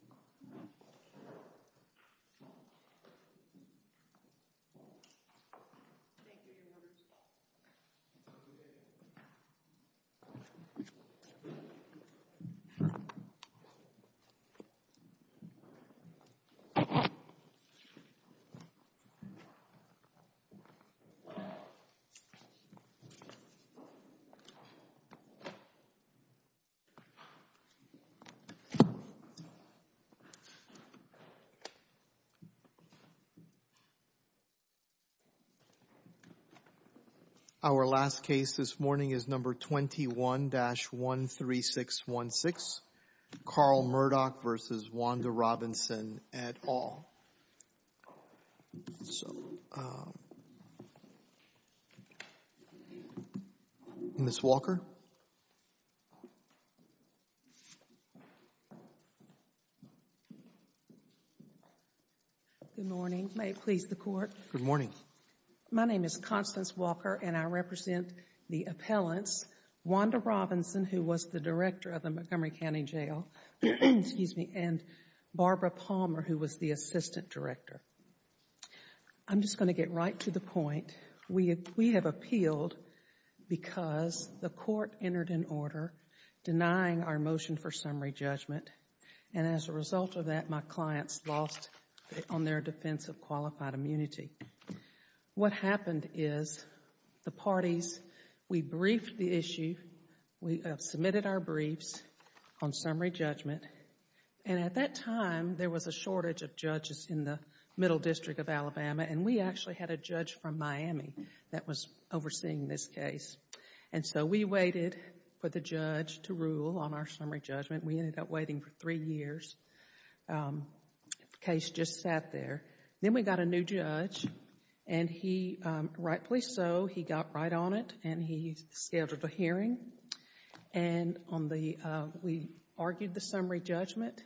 Thank you, Your Honor. Our last case this morning is number 21-13616, Carl Murdock v. Wanda Robinson et al. Ms. Walker? Constance Walker, Jr. Good morning. May it please the Court. Good morning. My name is Constance Walker, and I represent the appellants, Wanda Robinson, who was the Montgomery County Jail, and Barbara Palmer, who was the Assistant Director. I'm just going to get right to the point. We have appealed because the Court entered an order denying our motion for summary judgment, and as a result of that, my clients lost on their defense of qualified immunity. What happened is the parties, we briefed the issue, we submitted our briefs on summary judgment, and at that time, there was a shortage of judges in the Middle District of Alabama, and we actually had a judge from Miami that was overseeing this case. And so, we waited for the judge to rule on our summary judgment. We ended up waiting for three years. The case just sat there. Then we got a new judge, and rightfully so, he got right on it, and he scheduled a hearing. We argued the summary judgment,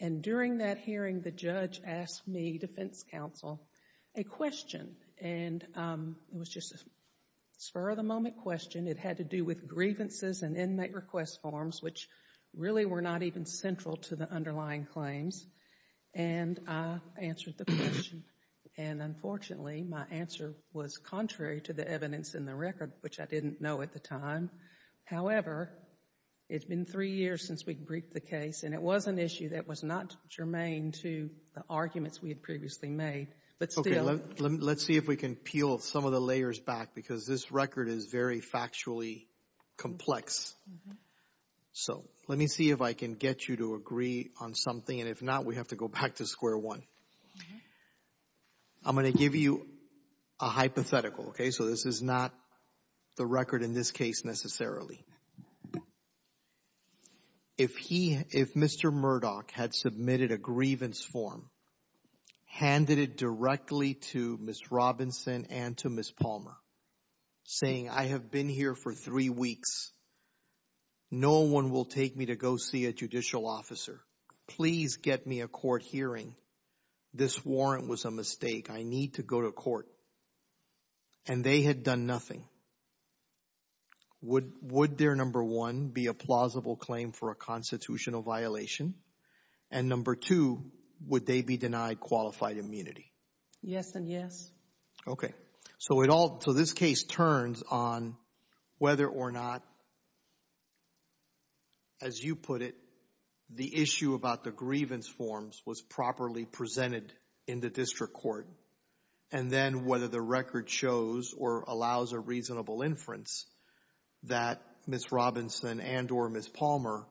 and during that hearing, the judge asked me, defense counsel, a question, and it was just a spur-of-the-moment question. It had to do with grievances and inmate request forms, which really were not even central to the underlying claims. And I answered the question, and unfortunately, my answer was contrary to the evidence in the record, which I didn't know at the time. However, it's been three years since we briefed the case, and it was an issue that was not germane to the arguments we had previously made, but still. Okay. Let's see if we can peel some of the layers back, because this record is very factually complex. Uh-huh. So let me see if I can get you to agree on something, and if not, we have to go back to square one. Okay. I'm going to give you a hypothetical, okay? So this is not the record in this case, necessarily. If he, if Mr. Murdoch had submitted a grievance form, handed it directly to Ms. Robinson and to Ms. Palmer, saying, I have been here for three weeks, no one will take me to go see a judicial officer, please get me a court hearing, this warrant was a mistake, I need to go to court, and they had done nothing, would there, number one, be a plausible claim for a constitutional violation? And number two, would they be denied qualified immunity? Yes and yes. Yes. Okay. So it all, so this case turns on whether or not, as you put it, the issue about the grievance forms was properly presented in the district court, and then whether the record shows or allows a reasonable inference that Ms. Robinson and or Ms. Palmer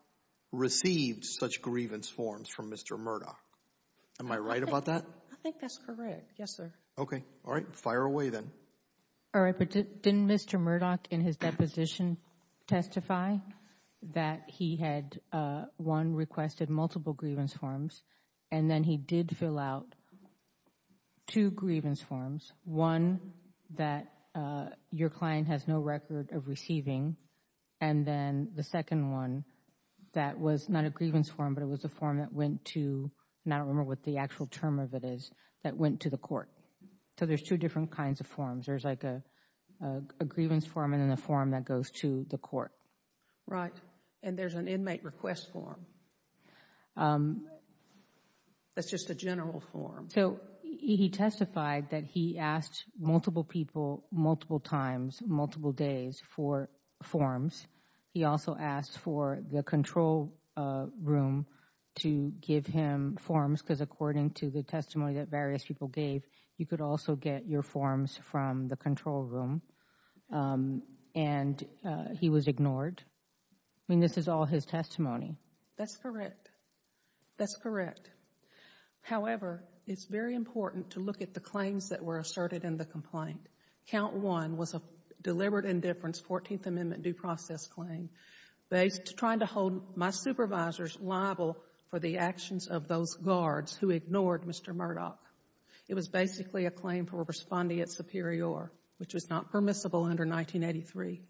received such grievance forms from Mr. Murdoch. Am I right about that? I think that's correct. Yes, sir. Okay. All right. Fire away then. All right. But didn't Mr. Murdoch in his deposition testify that he had, one, requested multiple grievance forms, and then he did fill out two grievance forms, one that your client has no record of receiving, and then the second one that was not a grievance form, but it was a form that went to, and I don't remember what the actual term of it is, that went to the court. So there's two different kinds of forms. There's like a grievance form and then a form that goes to the court. Right. And there's an inmate request form. That's just a general form. So he testified that he asked multiple people, multiple times, multiple days for forms. He also asked for the control room to give him forms because according to the testimony that various people gave, you could also get your forms from the control room, and he was ignored. I mean, this is all his testimony. That's correct. That's correct. However, it's very important to look at the claims that were asserted in the complaint. Count 1 was a deliberate indifference 14th Amendment due process claim trying to hold my supervisors liable for the actions of those guards who ignored Mr. Murdoch. It was basically a claim for responding at superior, which was not permissible under 1983.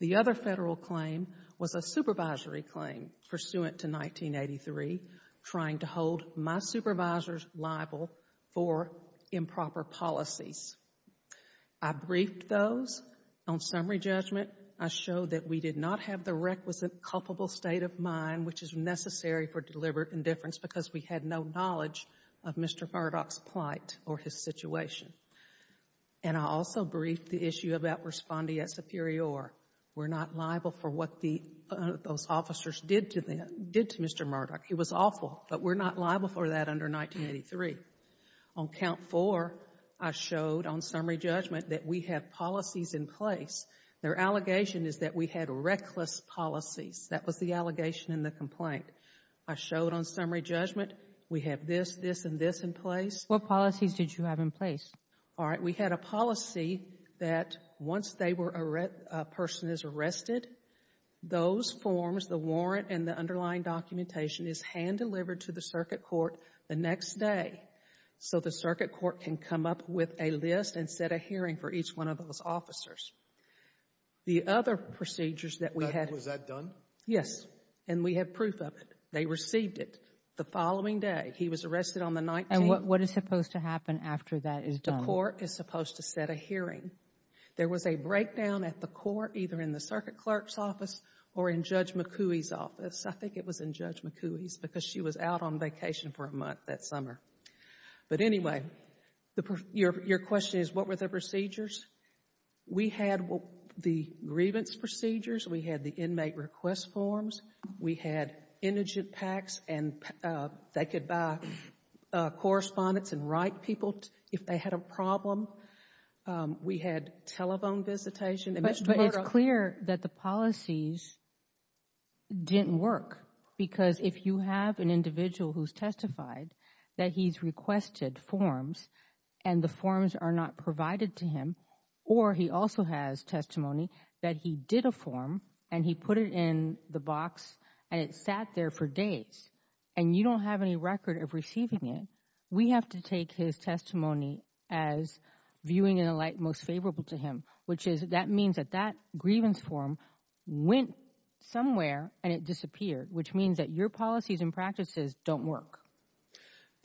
The other federal claim was a supervisory claim pursuant to 1983, trying to hold my officers liable for policies. I briefed those. On summary judgment, I showed that we did not have the requisite culpable state of mind which is necessary for deliberate indifference because we had no knowledge of Mr. Murdoch's plight or his situation. And I also briefed the issue about responding at superior. We're not liable for what those officers did to Mr. Murdoch. It was awful, but we're not liable for that under 1983. On count 4, I showed on summary judgment that we have policies in place. Their allegation is that we had reckless policies. That was the allegation in the complaint. I showed on summary judgment we have this, this, and this in place. What policies did you have in place? All right. We had a policy that once they were, a person is arrested, those forms, the warrant and the underlying documentation is hand-delivered to the circuit court the next day so the circuit court can come up with a list and set a hearing for each one of those officers. The other procedures that we had. Was that done? Yes. And we have proof of it. They received it the following day. He was arrested on the 19th. And what is supposed to happen after that is done? The court is supposed to set a hearing. There was a breakdown at the court, either in the circuit clerk's office or in Judge McCooey's office. I think it was in Judge McCooey's because she was out on vacation for a month that summer. But anyway, your question is what were the procedures? We had the grievance procedures. We had the inmate request forms. We had indigent PACs and they could buy correspondence and write people if they had a problem. We had telephone visitation. But it's clear that the policies didn't work because if you have an individual who's testified that he's requested forms and the forms are not provided to him or he also has testimony that he did a form and he put it in the box and it sat there for days and you don't have any record of receiving it, we have to take his testimony as viewing in a light most favorable to him, which is that means that that grievance form went somewhere and it disappeared, which means that your policies and practices don't work.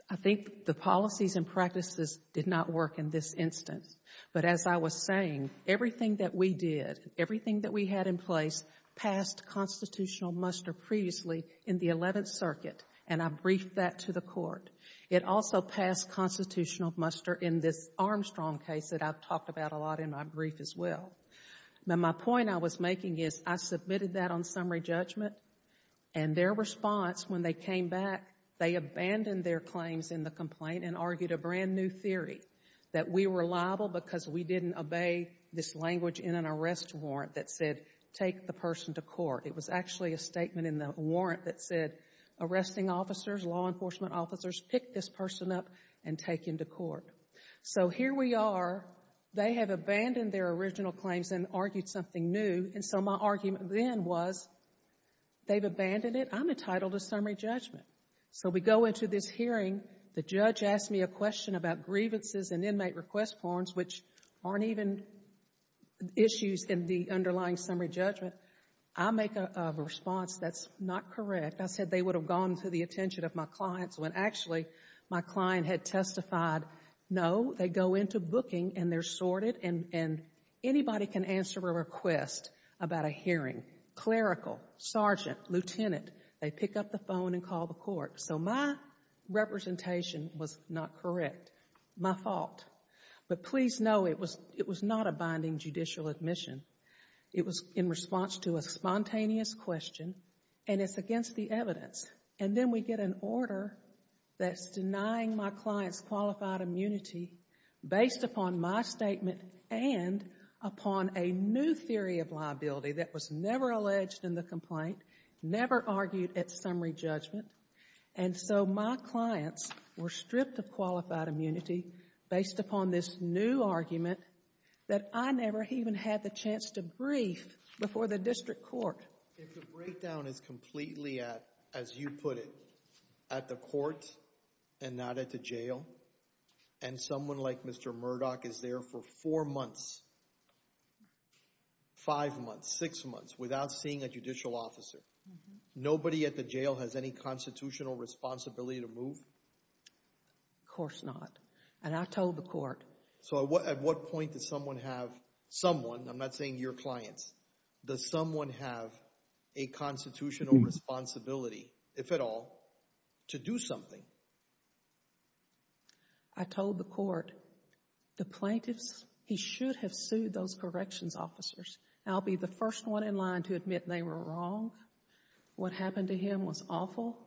I think the policies and practices did not work in this instance. But as I was saying, everything that we did, everything that we had in place passed constitutional muster previously in the Eleventh Circuit and I briefed that to the court. It also passed constitutional muster in this Armstrong case that I've talked about a lot in my brief as well. My point I was making is I submitted that on summary judgment and their response when they came back, they abandoned their claims in the complaint and argued a brand new theory that we were liable because we didn't obey this language in an arrest warrant that said take the person to court. It was actually a statement in the warrant that said arresting officers, law enforcement officers pick this person up and take him to court. So here we are. They have abandoned their original claims and argued something new. And so my argument then was they've abandoned it, I'm entitled to summary judgment. So we go into this hearing, the judge asked me a question about grievances and inmate request forms, which aren't even issues in the underlying summary judgment. I make a response that's not correct. I said they would have gone to the attention of my clients when actually my client had And they're sorted and anybody can answer a request about a hearing, clerical, sergeant, lieutenant. They pick up the phone and call the court. So my representation was not correct, my fault. But please know it was not a binding judicial admission. It was in response to a spontaneous question and it's against the evidence. And then we get an order that's denying my clients qualified immunity based upon my statement and upon a new theory of liability that was never alleged in the complaint, never argued at summary judgment. And so my clients were stripped of qualified immunity based upon this new argument that I never even had the chance to brief before the district court. If the breakdown is completely at, as you put it, at the court and not at the jail, and someone like Mr. Murdoch is there for four months, five months, six months, without seeing a judicial officer, nobody at the jail has any constitutional responsibility to move? Of course not. And I told the court. So at what point does someone have, someone, I'm not saying your clients, does someone have a constitutional responsibility, if at all, to do something? I told the court, the plaintiffs, he should have sued those corrections officers. I'll be the first one in line to admit they were wrong. What happened to him was awful.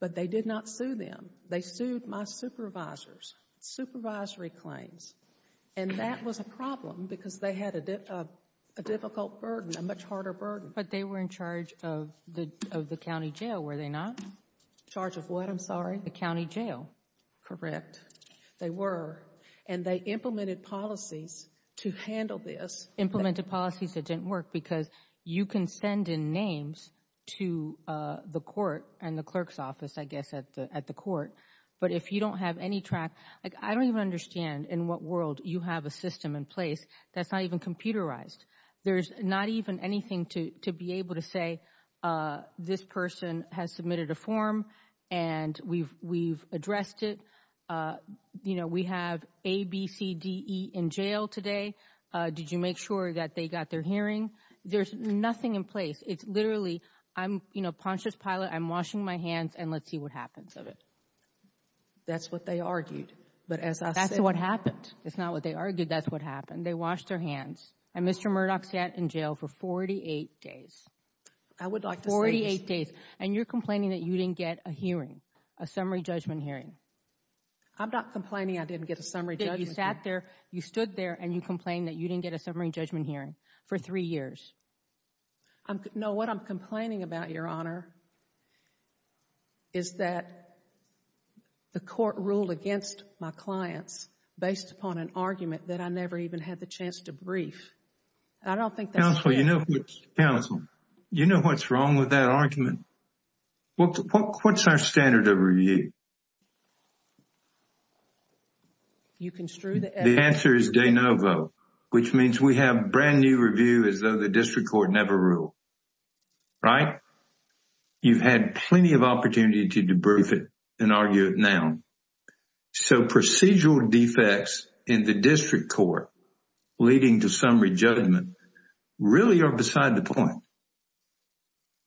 But they did not sue them. They sued my supervisors, supervisory claims. And that was a problem because they had a difficult burden, a much harder burden. But they were in charge of the county jail, were they not? Charge of what, I'm sorry? The county jail. Correct. They were. And they implemented policies to handle this. Implemented policies that didn't work because you can send in names to the court and the clerk's office, I guess, at the court. But if you don't have any track, like I don't even understand in what world you have a system in place that's not even computerized. There's not even anything to be able to say, this person has submitted a form and we've addressed it. You know, we have A, B, C, D, E in jail today. Did you make sure that they got their hearing? There's nothing in place. It's literally, I'm, you know, Pontius Pilate, I'm washing my hands and let's see what happens of it. That's what they argued. But as I said- That's what happened. It's not what they argued, that's what happened. They washed their hands. And Mr. Murdoch sat in jail for 48 days. I would like to say- 48 days. And you're complaining that you didn't get a hearing, a summary judgment hearing. I'm not complaining I didn't get a summary judgment hearing. That you sat there, you stood there and you complained that you didn't get a summary judgment hearing for three years. No, what I'm complaining about, Your Honor, is that the court ruled against my clients based upon an argument that I never even had the chance to brief. I don't think that's- Counsel, you know what's wrong with that argument? What's our standard of review? You construe the- The answer is de novo, which means we have brand new review as though the district court never ruled, right? You've had plenty of opportunity to debrief it and argue it now. So procedural defects in the district court leading to summary judgment really are beside the point.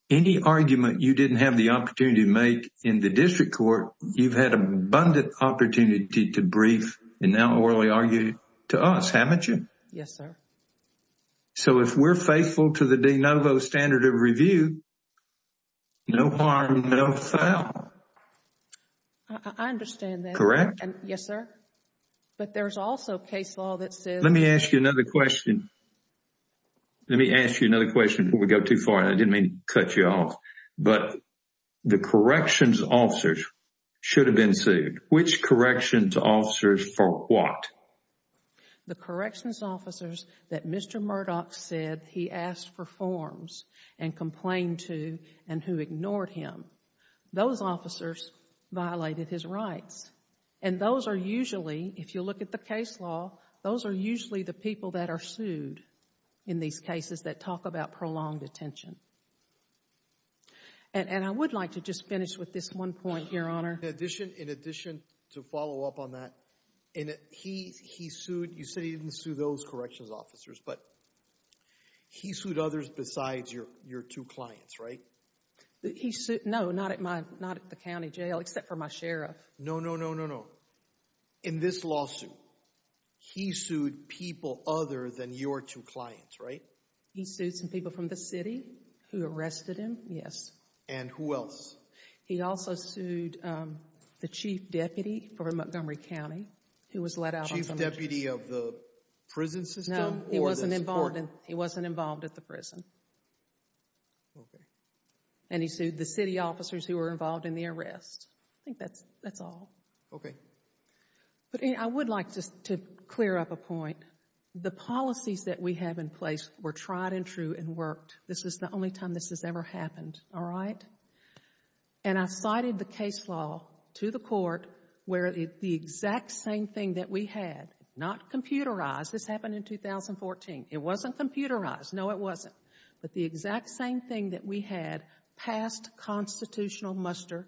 Any argument you didn't have the opportunity to make in the district court, you've had abundant opportunity to brief and now orally argue to us, haven't you? Yes, sir. So, if we're faithful to the de novo standard of review, no harm, no foul. I understand that. Correct? Yes, sir. But there's also case law that says- Let me ask you another question. Let me ask you another question before we go too far and I didn't mean to cut you off. But the corrections officers should have been sued. Which corrections officers for what? The corrections officers that Mr. Murdoch said he asked for forms and complained to and who ignored him. Those officers violated his rights. And those are usually, if you look at the case law, those are usually the people that are sued in these cases that talk about prolonged detention. And I would like to just finish with this one point here, Honor. In addition to follow up on that, he sued, you said he didn't sue those corrections officers, but he sued others besides your two clients, right? He sued, no, not at the county jail except for my sheriff. No, no, no, no, no. In this lawsuit, he sued people other than your two clients, right? He sued some people from the city who arrested him, yes. And who else? He also sued the chief deputy for Montgomery County who was let out on some- Chief deputy of the prison system or the support- No, he wasn't involved at the prison. And he sued the city officers who were involved in the arrest. I think that's all. Okay. But I would like just to clear up a point. The policies that we have in place were tried and true and worked. This is the only time this has ever happened, all right? And I cited the case law to the court where the exact same thing that we had, not computerized, this happened in 2014, it wasn't computerized, no it wasn't, but the exact same thing that we had passed constitutional muster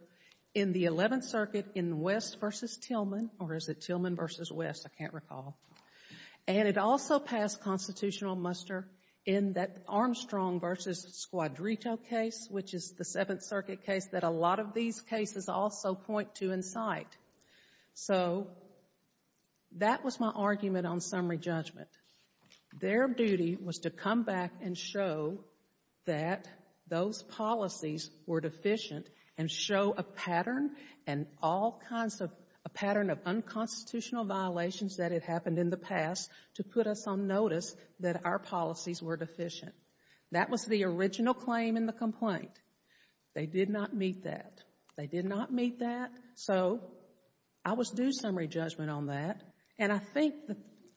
in the 11th Circuit in West v. Tillman, or is it Tillman v. West? I can't recall. And it also passed constitutional muster in that Armstrong v. Squadrito case, which is the 7th Circuit case that a lot of these cases also point to in sight. So that was my argument on summary judgment. Their duty was to come back and show that those policies were deficient and show a pattern and all kinds of, a pattern of unconstitutional violations that had happened in the past to put us on notice that our policies were deficient. That was the original claim in the complaint. They did not meet that. They did not meet that. So I was due summary judgment on that, and I think,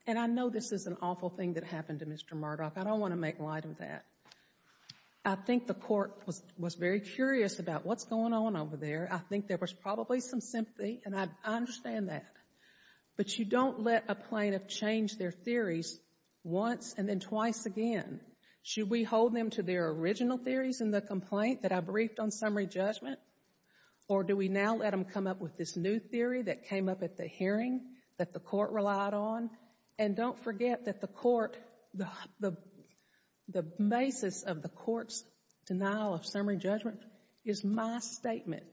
and I know this is an awful thing that happened to Mr. Murdoch, I don't want to make light of that. I think the court was very curious about what's going on over there. I think there was probably some sympathy, and I understand that. But you don't let a plaintiff change their theories once and then twice again. Should we hold them to their original theories in the complaint that I briefed on summary with this new theory that came up at the hearing that the court relied on? And don't forget that the court, the basis of the court's denial of summary judgment is my statement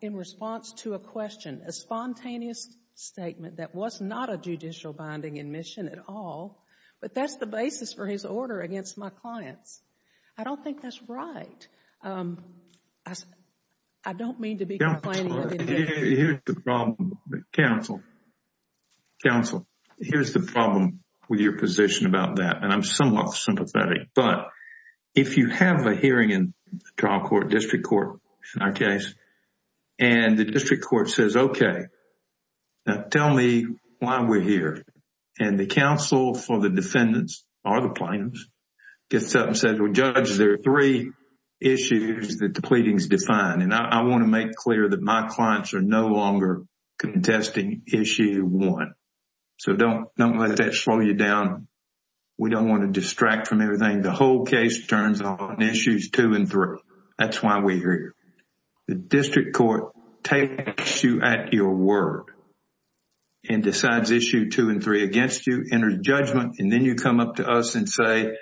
in response to a question, a spontaneous statement that was not a judicial binding admission at all, but that's the basis for his order against my clients. I don't think that's right. I don't mean to be complaining. Counsel, counsel, here's the problem with your position about that, and I'm somewhat sympathetic, but if you have a hearing in trial court, district court in our case, and the district court says, okay, now tell me why we're here, and the counsel for the defendants or the plaintiffs gets up and says, well, judge, there are three issues that the pleadings define, and I want to make clear that my clients are no longer contesting issue one. So don't let that slow you down. We don't want to distract from everything. The whole case turns on issues two and three. That's why we're here. The district court takes you at your word and decides issue two and three against you, enters judgment, and then you come up to us and say,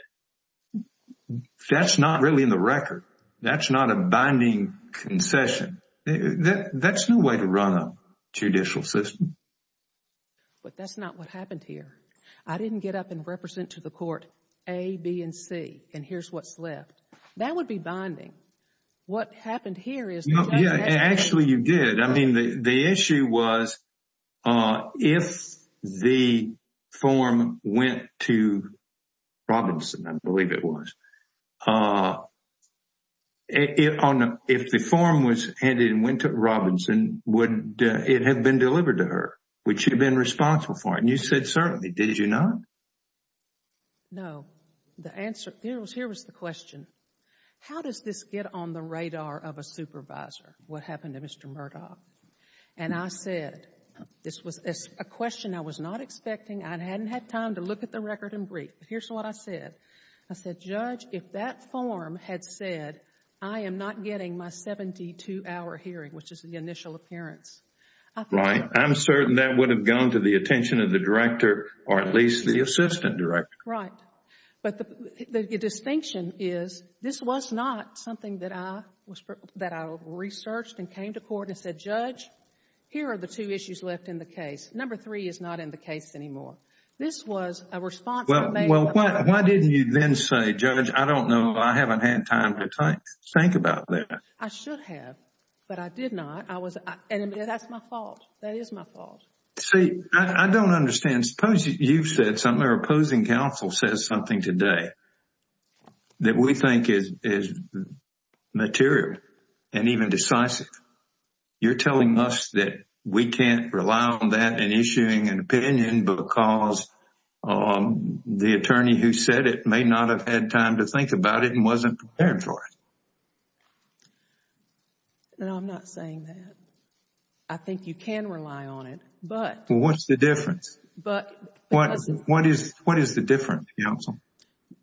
that's not really in the record. That's not a binding concession. That's no way to run a judicial system. But that's not what happened here. I didn't get up and represent to the court A, B, and C, and here's what's left. That would be binding. What happened here is- No, yeah. Actually, you did. I mean, the issue was, if the form went to Robinson, I believe it was, if the form was handed and went to Robinson, would it have been delivered to her? Would she have been responsible for it? And you said certainly. Did you not? No. The answer, here was the question, how does this get on the radar of a supervisor, what happened to Mr. Murdoch? And I said, this was a question I was not expecting. I hadn't had time to look at the record in brief. Here's what I said. I said, Judge, if that form had said, I am not getting my 72-hour hearing, which is the initial appearance. I think- Right. I'm certain that would have gone to the attention of the director or at least the assistant director. Right. But the distinction is, this was not something that I researched and came to court and said, Judge, here are the two issues left in the case. Number three is not in the case anymore. This was a response that made- Well, why didn't you then say, Judge, I don't know, I haven't had time to think about that? I should have, but I did not. And that's my fault. That is my fault. See, I don't understand. And suppose you've said something or opposing counsel says something today that we think is material and even decisive. You're telling us that we can't rely on that in issuing an opinion because the attorney who said it may not have had time to think about it and wasn't prepared for it. No, I'm not saying that. I think you can rely on it, but- Well, what's the difference? But- What is the difference, counsel?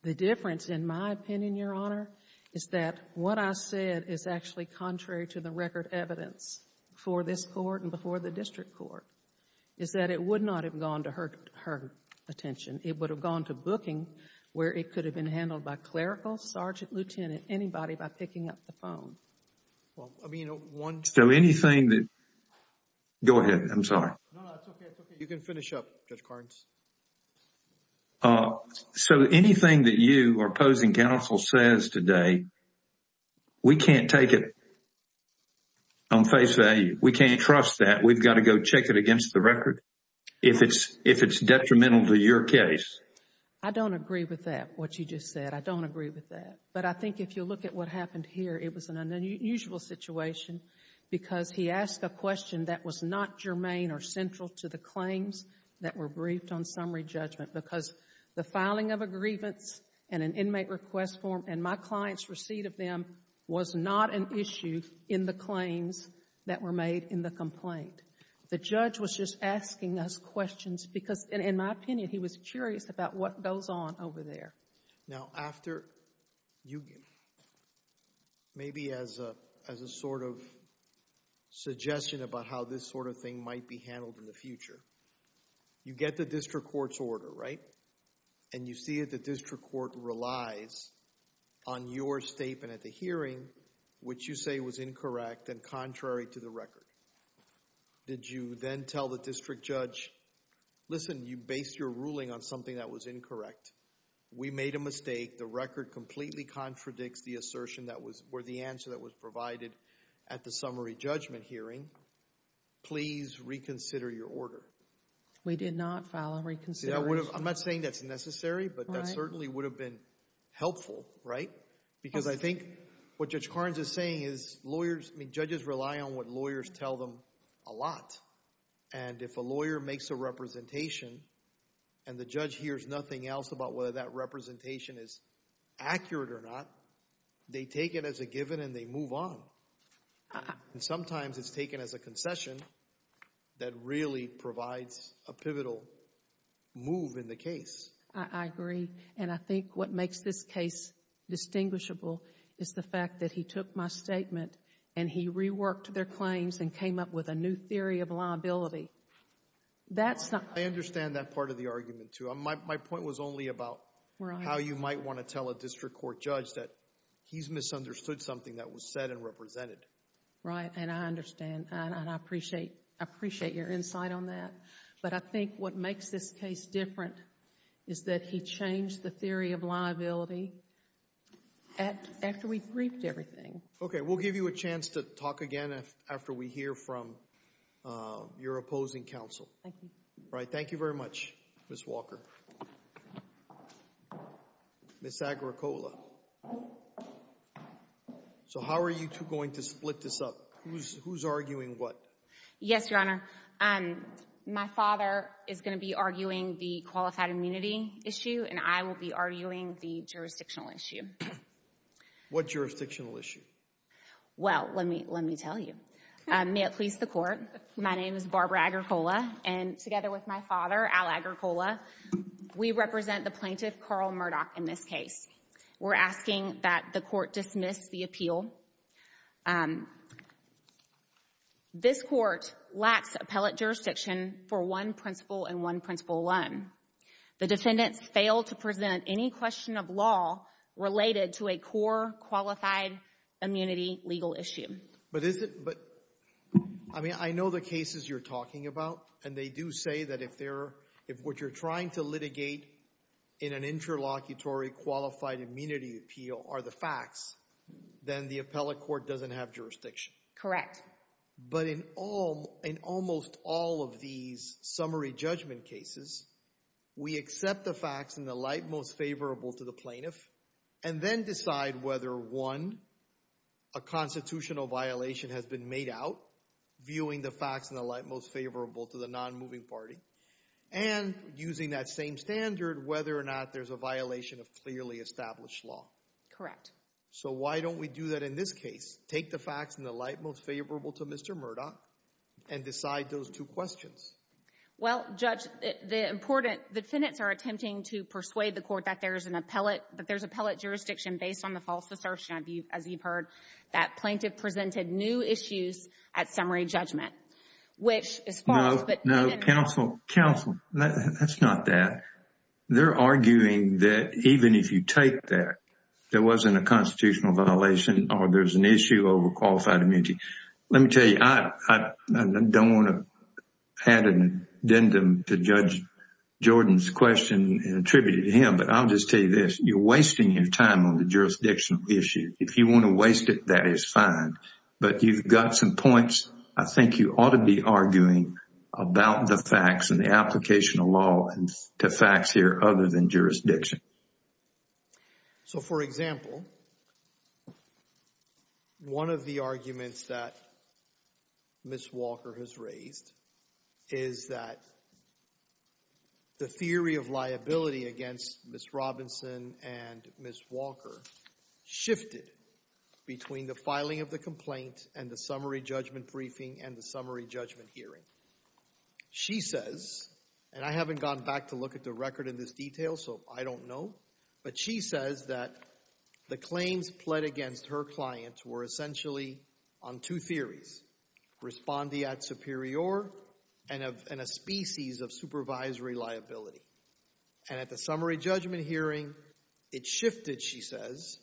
The difference, in my opinion, Your Honor, is that what I said is actually contrary to the record evidence before this court and before the district court, is that it would not have gone to her attention. It would have gone to booking where it could have been handled by clerical, sergeant, lieutenant, anybody by picking up the phone. Well, I mean, one- So anything that- Go ahead. I'm sorry. No, no, it's okay. You can finish up, Judge Cardins. So anything that you or opposing counsel says today, we can't take it on face value. We can't trust that. We've got to go check it against the record if it's detrimental to your case. I don't agree with that, what you just said. I don't agree with that. But I think if you look at what happened here, it was an unusual situation because he asked a question that was not germane or central to the claims that were briefed on summary judgment because the filing of a grievance and an inmate request form and my client's receipt of them was not an issue in the claims that were made in the complaint. The judge was just asking us questions because, in my opinion, he was curious about what goes on over there. Now, after you, maybe as a sort of suggestion about how this sort of thing might be handled in the future, you get the district court's order, right? And you see that the district court relies on your statement at the hearing, which you say was incorrect and contrary to the record. Did you then tell the district judge, listen, you based your ruling on something that was incorrect. We made a mistake. The record completely contradicts the assertion that was, or the answer that was provided at the summary judgment hearing. Please reconsider your order. We did not file a reconsideration. I'm not saying that's necessary, but that certainly would have been helpful, right? Because I think what Judge Carnes is saying is lawyers, I mean, judges rely on what lawyers tell them a lot. And if a lawyer makes a representation and the judge hears nothing else about whether that representation is accurate or not, they take it as a given and they move on. Sometimes it's taken as a concession that really provides a pivotal move in the case. I agree. And I think what makes this case distinguishable is the fact that he took my statement and he reworked their claims and came up with a new theory of liability. That's not I understand that part of the argument, too. My point was only about how you might want to tell a district court judge that he's misunderstood something that was said and represented. Right. And I understand. And I appreciate your insight on that. But I think what makes this case different is that he changed the theory of liability after we briefed everything. Okay. We'll give you a chance to talk again after we hear from your opposing counsel. Thank you. All right. Thank you very much, Ms. Walker. Ms. Agricola. So how are you two going to split this up? Who's arguing what? Yes, Your Honor. My father is going to be arguing the qualified immunity issue and I will be arguing the jurisdictional issue. What jurisdictional issue? Well, let me tell you. May it please the Court, my name is Barbara Agricola and together with my father, Al Agricola, we represent the plaintiff, Carl Murdoch, in this case. We're asking that the Court dismiss the appeal. This Court lacks appellate jurisdiction for one principle and one principle alone. The defendants fail to present any question of law related to a core qualified immunity legal issue. But is it — I mean, I know the cases you're talking about and they do say that if they're — if what you're trying to litigate in an interlocutory qualified immunity appeal are the facts, then the appellate court doesn't have jurisdiction. Correct. Correct. But in almost all of these summary judgment cases, we accept the facts in the light most favorable to the plaintiff and then decide whether, one, a constitutional violation has been made out, viewing the facts in the light most favorable to the non-moving party, and using that same standard, whether or not there's a violation of clearly established law. Correct. So why don't we do that in this case? Take the facts in the light most favorable to Mr. Murdoch and decide those two questions. Well, Judge, the important — the defendants are attempting to persuade the Court that there's an appellate — that there's appellate jurisdiction based on the false assertion, as you've heard, that plaintiff presented new issues at summary judgment, which is false. No. No. Counsel. Counsel. That's not that. They're arguing that even if you take that there wasn't a constitutional violation or there's an issue over qualified immunity, let me tell you, I don't want to add an addendum to Judge Jordan's question and attribute it to him, but I'll just tell you this. You're wasting your time on the jurisdictional issue. If you want to waste it, that is fine, but you've got some points I think you ought to be arguing about the facts and the application of law to facts here other than jurisdiction. So, for example, one of the arguments that Ms. Walker has raised is that the theory of liability against Ms. Robinson and Ms. Walker shifted between the filing of the complaint and the summary judgment briefing and the summary judgment hearing. She says, and I haven't gone back to look at the record in this detail, so I don't know, but she says that the claims pled against her clients were essentially on two theories, respondeat superior and a species of supervisory liability. And at the summary judgment hearing, it shifted, she says,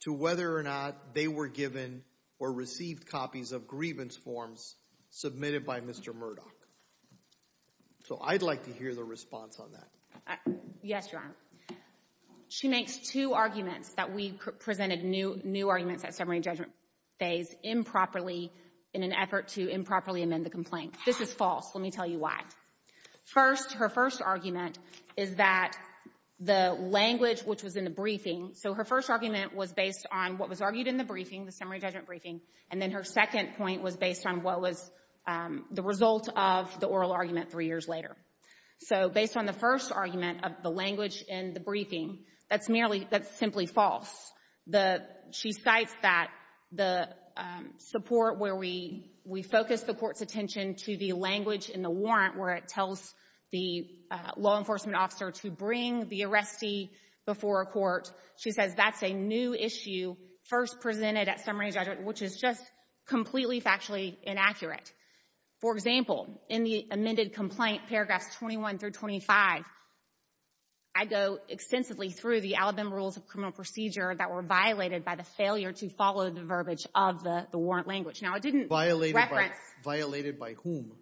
to whether or not they were given or received copies of grievance forms submitted by Mr. Murdoch. So I'd like to hear the response on that. Yes, Your Honor. She makes two arguments that we presented new arguments at summary judgment phase improperly in an effort to improperly amend the complaint. This is false. Let me tell you why. First, her first argument is that the language which was in the briefing, so her first argument was based on what was argued in the briefing, the summary judgment briefing, and then her second point was based on what was the result of the oral argument three years later. So based on the first argument of the language in the briefing, that's merely, that's simply false. The, she cites that the support where we, we focus the court's attention to the language in the warrant where it tells the law enforcement officer to bring the arrestee before a court. She says that's a new issue first presented at summary judgment, which is just completely factually inaccurate. For example, in the amended complaint, paragraphs 21 through 25, I go extensively through the Alabama Rules of Criminal Procedure that were violated by the failure to follow the verbiage of the warrant language. Now, I didn't reference. Violated by whom?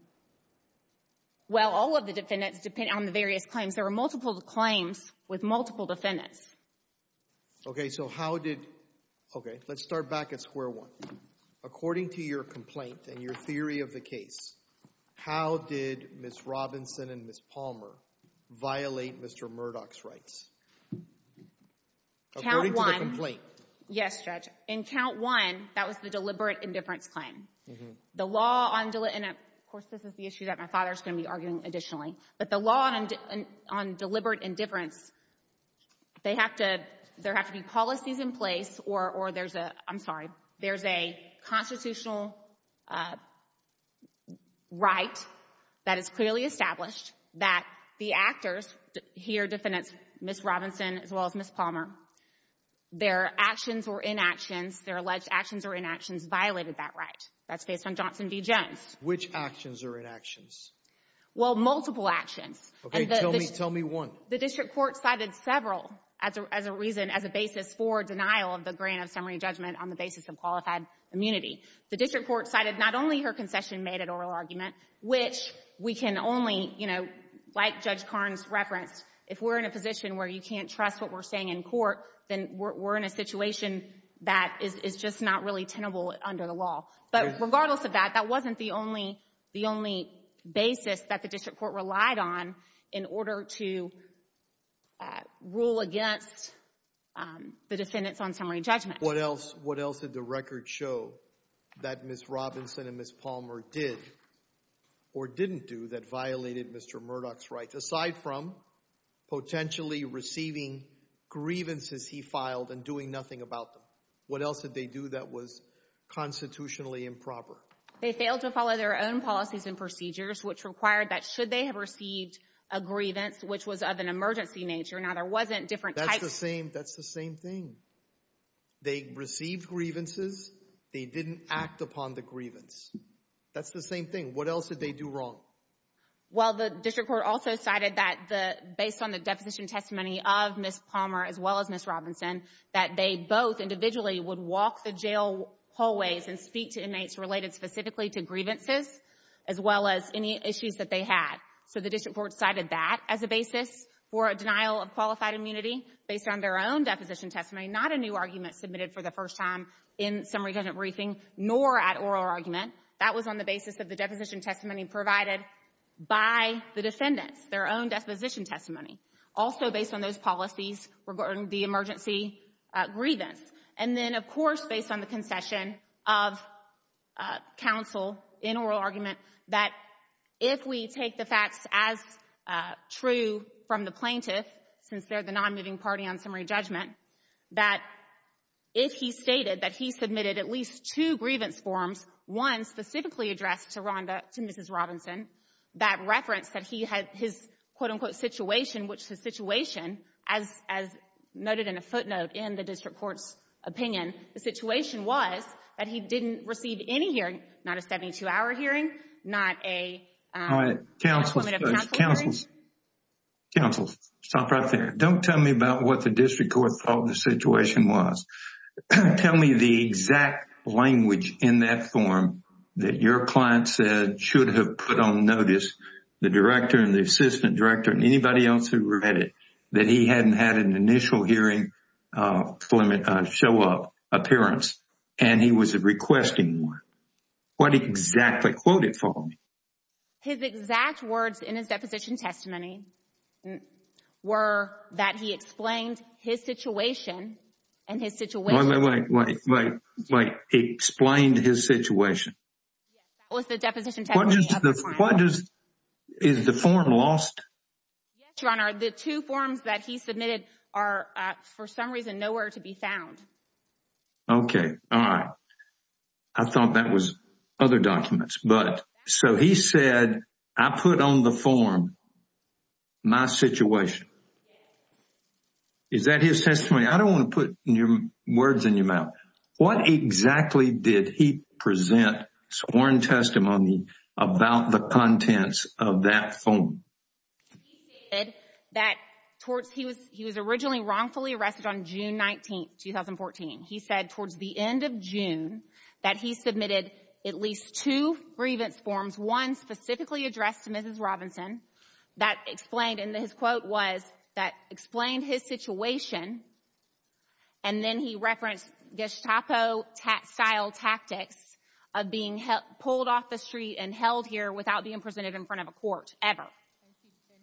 Well, all of the defendants, depending on the various claims. There were multiple claims with multiple defendants. Okay, so how did, okay, let's start back at square one. According to your complaint and your theory of the case, how did Ms. Robinson and Ms. Palmer violate Mr. Murdoch's rights? According to the complaint. Yes, Judge. In count one, that was the deliberate indifference claim. The law, and of course this is the issue that my father's going to be arguing additionally, but the law on deliberate indifference, they have to be policies in place or there's a, I'm sorry, there's a constitutional right that is clearly established that the actors, here defendants Ms. Robinson as well as Ms. Palmer, their actions or inactions, their alleged actions or inactions violated that right. That's based on Johnson v. Jones. Which actions or inactions? Well, multiple actions. Okay, tell me one. The district court cited several as a reason, as a basis for denial of the grant of summary judgment on the basis of qualified immunity. The district court cited not only her concession-made oral argument, which we can only, you know, like Judge Karnes referenced, if we're in a position where you can't trust what we're saying in court, then we're in a situation that is just not really tenable under the law. But regardless of that, that wasn't the only, the only basis that the district court relied on in order to rule against the defendants on summary judgment. What else, what else did the record show that Ms. Robinson and Ms. Palmer did or didn't do that violated Mr. Murdoch's rights, aside from potentially receiving grievances he filed and doing nothing about them? What else did they do that was constitutionally improper? They failed to follow their own policies and procedures, which required that should they have received a grievance, which was of an emergency nature, now there wasn't different types. That's the same, that's the same thing. They received grievances, they didn't act upon the grievance. That's the same thing. What else did they do wrong? Well, the district court also cited that the, based on the deposition testimony of Ms. Palmer as well as Ms. Robinson, that they both individually would walk the jail hallways and speak to inmates related specifically to grievances, as well as any issues that they had. So the district court cited that as a basis for a denial of qualified immunity based on their own deposition testimony, not a new argument submitted for the first time in summary judgment briefing, nor at oral argument. That was on the basis of the deposition testimony provided by the defendants, their own deposition testimony. Also based on those policies regarding the emergency grievance. And then, of course, based on the concession of counsel in oral argument, that if we take the facts as true from the plaintiff, since they're the nonmoving party on summary judgment, that if he stated that he submitted at least two grievance forms, one specifically addressed to Rhonda, to Mrs. Robinson, that reference that he had his quote-unquote situation, which the situation, as noted in a footnote in the district court's opinion, the situation was that he didn't receive any hearing, not a 72-hour hearing, not a, a formative counsel hearing. All right. Counsel, counsel. Counsel, stop right there. Don't tell me about what the district court thought the situation was. Tell me the exact language in that form that your client said should have put on notice the director and the assistant director and anybody else who read it, that he hadn't had an initial hearing show up, appearance, and he was requesting one. What exactly? Quote it for me. His exact words in his deposition testimony were that he explained his situation and his situation. Wait, wait, wait, wait, wait. He explained his situation? Yes. That was the deposition testimony. What does the, what does, is the form lost? Yes, Your Honor. The two forms that he submitted are, for some reason, nowhere to be found. Okay. All right. I thought that was other documents. But, so he said, I put on the form my situation. Is that his testimony? I don't want to put words in your mouth. What exactly did he present sworn testimony about the contents of that form? He said that towards, he was originally wrongfully arrested on June 19th, 2014. He said towards the end of June that he submitted at least two grievance forms, one specifically addressed to Mrs. Robinson, that explained, and his quote was, that explained his situation, and then he referenced Gestapo-style tactics of being pulled off the street and held here without being presented in front of a court, ever.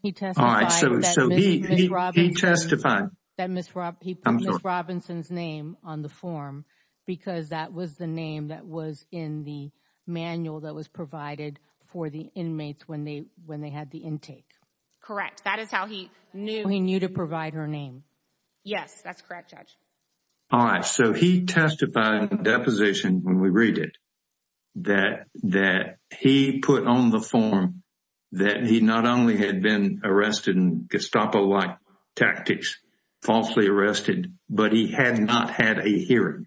He testified that Mrs. Robinson's name on the form, because that was the name that was in the manual that was provided for the inmates when they, when they had the intake. Correct. That is how he knew. He knew to provide her name. Yes. That's correct, Judge. All right, so he testified in the deposition, when we read it, that, that he put on the He not only had been arrested in Gestapo-like tactics, falsely arrested, but he had not had a hearing.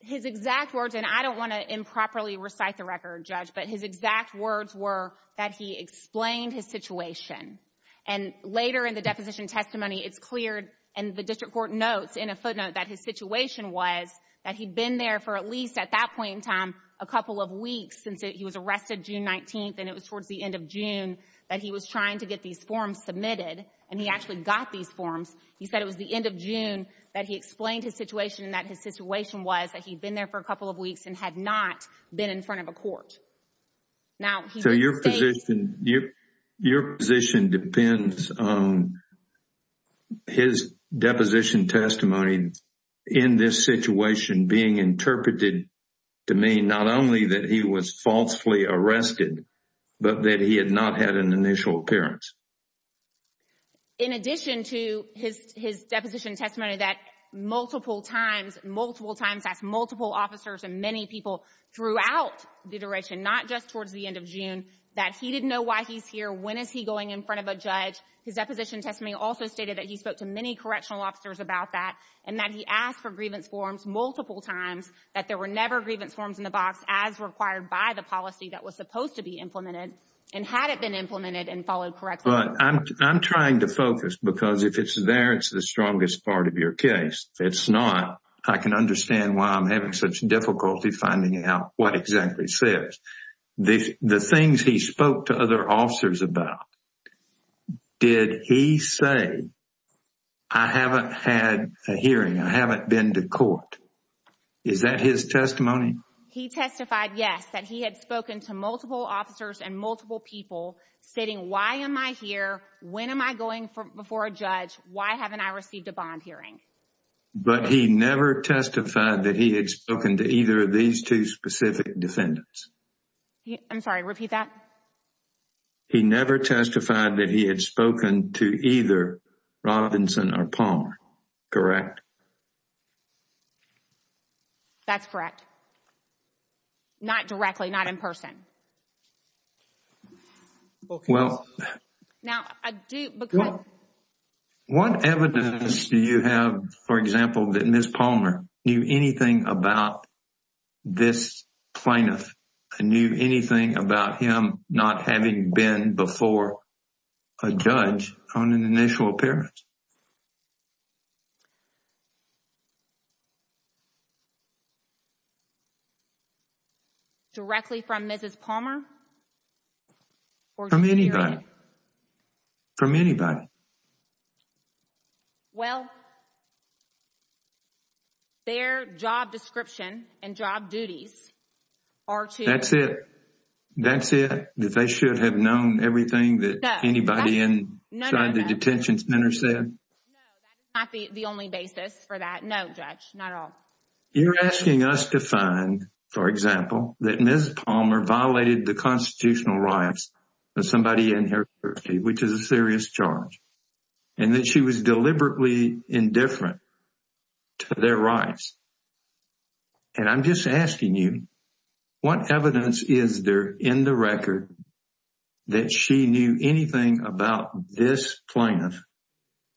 His exact words, and I don't want to improperly recite the record, Judge, but his exact words were that he explained his situation. And later in the deposition testimony, it's cleared, and the district court notes in a footnote that his situation was that he'd been there for at least at that point in time, a couple of weeks, since he was arrested June 19th, and it was towards the end of June that he was trying to get these forms submitted, and he actually got these forms. He said it was the end of June that he explained his situation and that his situation was that he'd been there for a couple of weeks and had not been in front of a court. Now he did state- So your position, your position depends on his deposition testimony in this situation being interpreted to mean not only that he was falsely arrested, but that he had not had an initial appearance. In addition to his deposition testimony that multiple times, multiple times, asked multiple officers and many people throughout the iteration, not just towards the end of June, that he didn't know why he's here, when is he going in front of a judge, his deposition testimony also stated that he spoke to many correctional officers about that, and that he asked for multiple times, that there were never grievance forms in the box as required by the policy that was supposed to be implemented, and had it been implemented and followed correctly. I'm trying to focus, because if it's there, it's the strongest part of your case. If it's not, I can understand why I'm having such difficulty finding out what exactly says. The things he spoke to other officers about, did he say, I haven't had a hearing, I haven't been to court. Is that his testimony? He testified, yes, that he had spoken to multiple officers and multiple people stating, why am I here, when am I going before a judge, why haven't I received a bond hearing? But he never testified that he had spoken to either of these two specific defendants. I'm sorry, repeat that. He never testified that he had spoken to either Robinson or Palmer, correct? That's correct. Not directly, not in person. Well, what evidence do you have, for example, that Ms. Palmer knew anything about this plaintiff, and knew anything about him not having been before a judge on an initial appearance? Directly from Mrs. Palmer? From anybody, from anybody. Well, their job description and job duties are to- That's it? That's it? That they should have known everything that anybody inside the detention center said? No, that's not the only basis for that, no, Judge, not at all. You're asking us to find, for example, that Ms. Palmer violated the constitutional rights of somebody in her country, which is a serious charge, and that she was deliberately indifferent to their rights. And I'm just asking you, what evidence is there in the record that she knew anything about this plaintiff,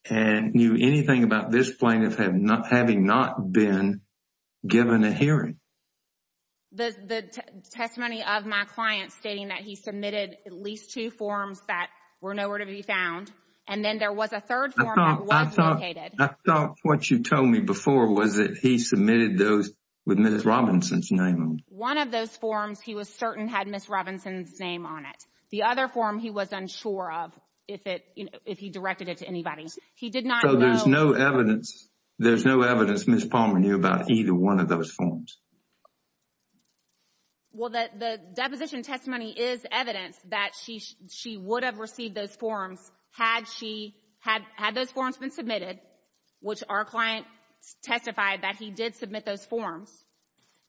and knew anything about this plaintiff having not been given a hearing? The testimony of my client stating that he submitted at least two forms that were nowhere to be found, and then there was a third form that was located. I thought what you told me before was that he submitted those with Ms. Robinson's name on them. One of those forms he was certain had Ms. Robinson's name on it. The other form he was unsure of, if he directed it to anybody. He did not know- There's no evidence, Ms. Palmer, knew about either one of those forms. Well, the deposition testimony is evidence that she would have received those forms had she, had those forms been submitted, which our client testified that he did submit those forms.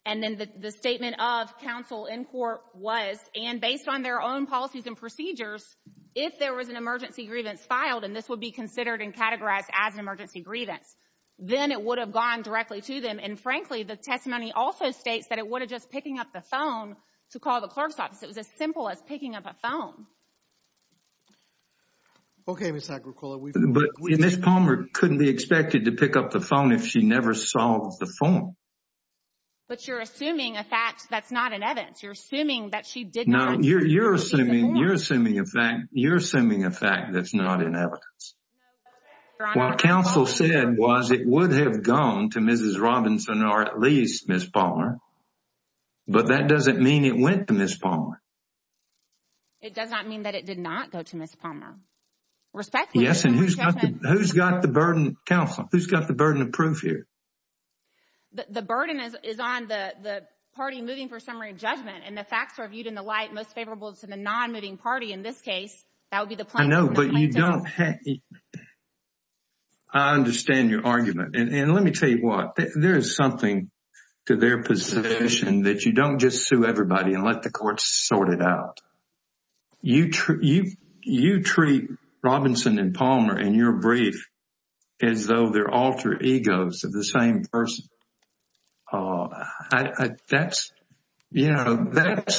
And then the statement of counsel in court was, and based on their own policies and procedures, if there was an emergency grievance filed, and this would be considered and categorized as an emergency grievance, then it would have gone directly to them. And frankly, the testimony also states that it would have just picking up the phone to call the clerk's office. It was as simple as picking up a phone. Okay, Ms. Agricola, we've- But Ms. Palmer couldn't be expected to pick up the phone if she never saw the form. But you're assuming a fact that's not in evidence. You're assuming that she didn't- No, you're assuming a fact that's not in evidence. What counsel said was it would have gone to Mrs. Robinson or at least Ms. Palmer. But that doesn't mean it went to Ms. Palmer. It does not mean that it did not go to Ms. Palmer. Respectfully- Yes, and who's got the burden, counsel, who's got the burden of proof here? The burden is on the party moving for summary judgment and the facts are viewed in the light most favorable to the non-moving party in this case, that would be the plaintiff. I know, but you don't have- I understand your argument. And let me tell you what, there is something to their position that you don't just sue everybody and let the courts sort it out. You treat Robinson and Palmer in your brief as though they're alter egos of the same person. That's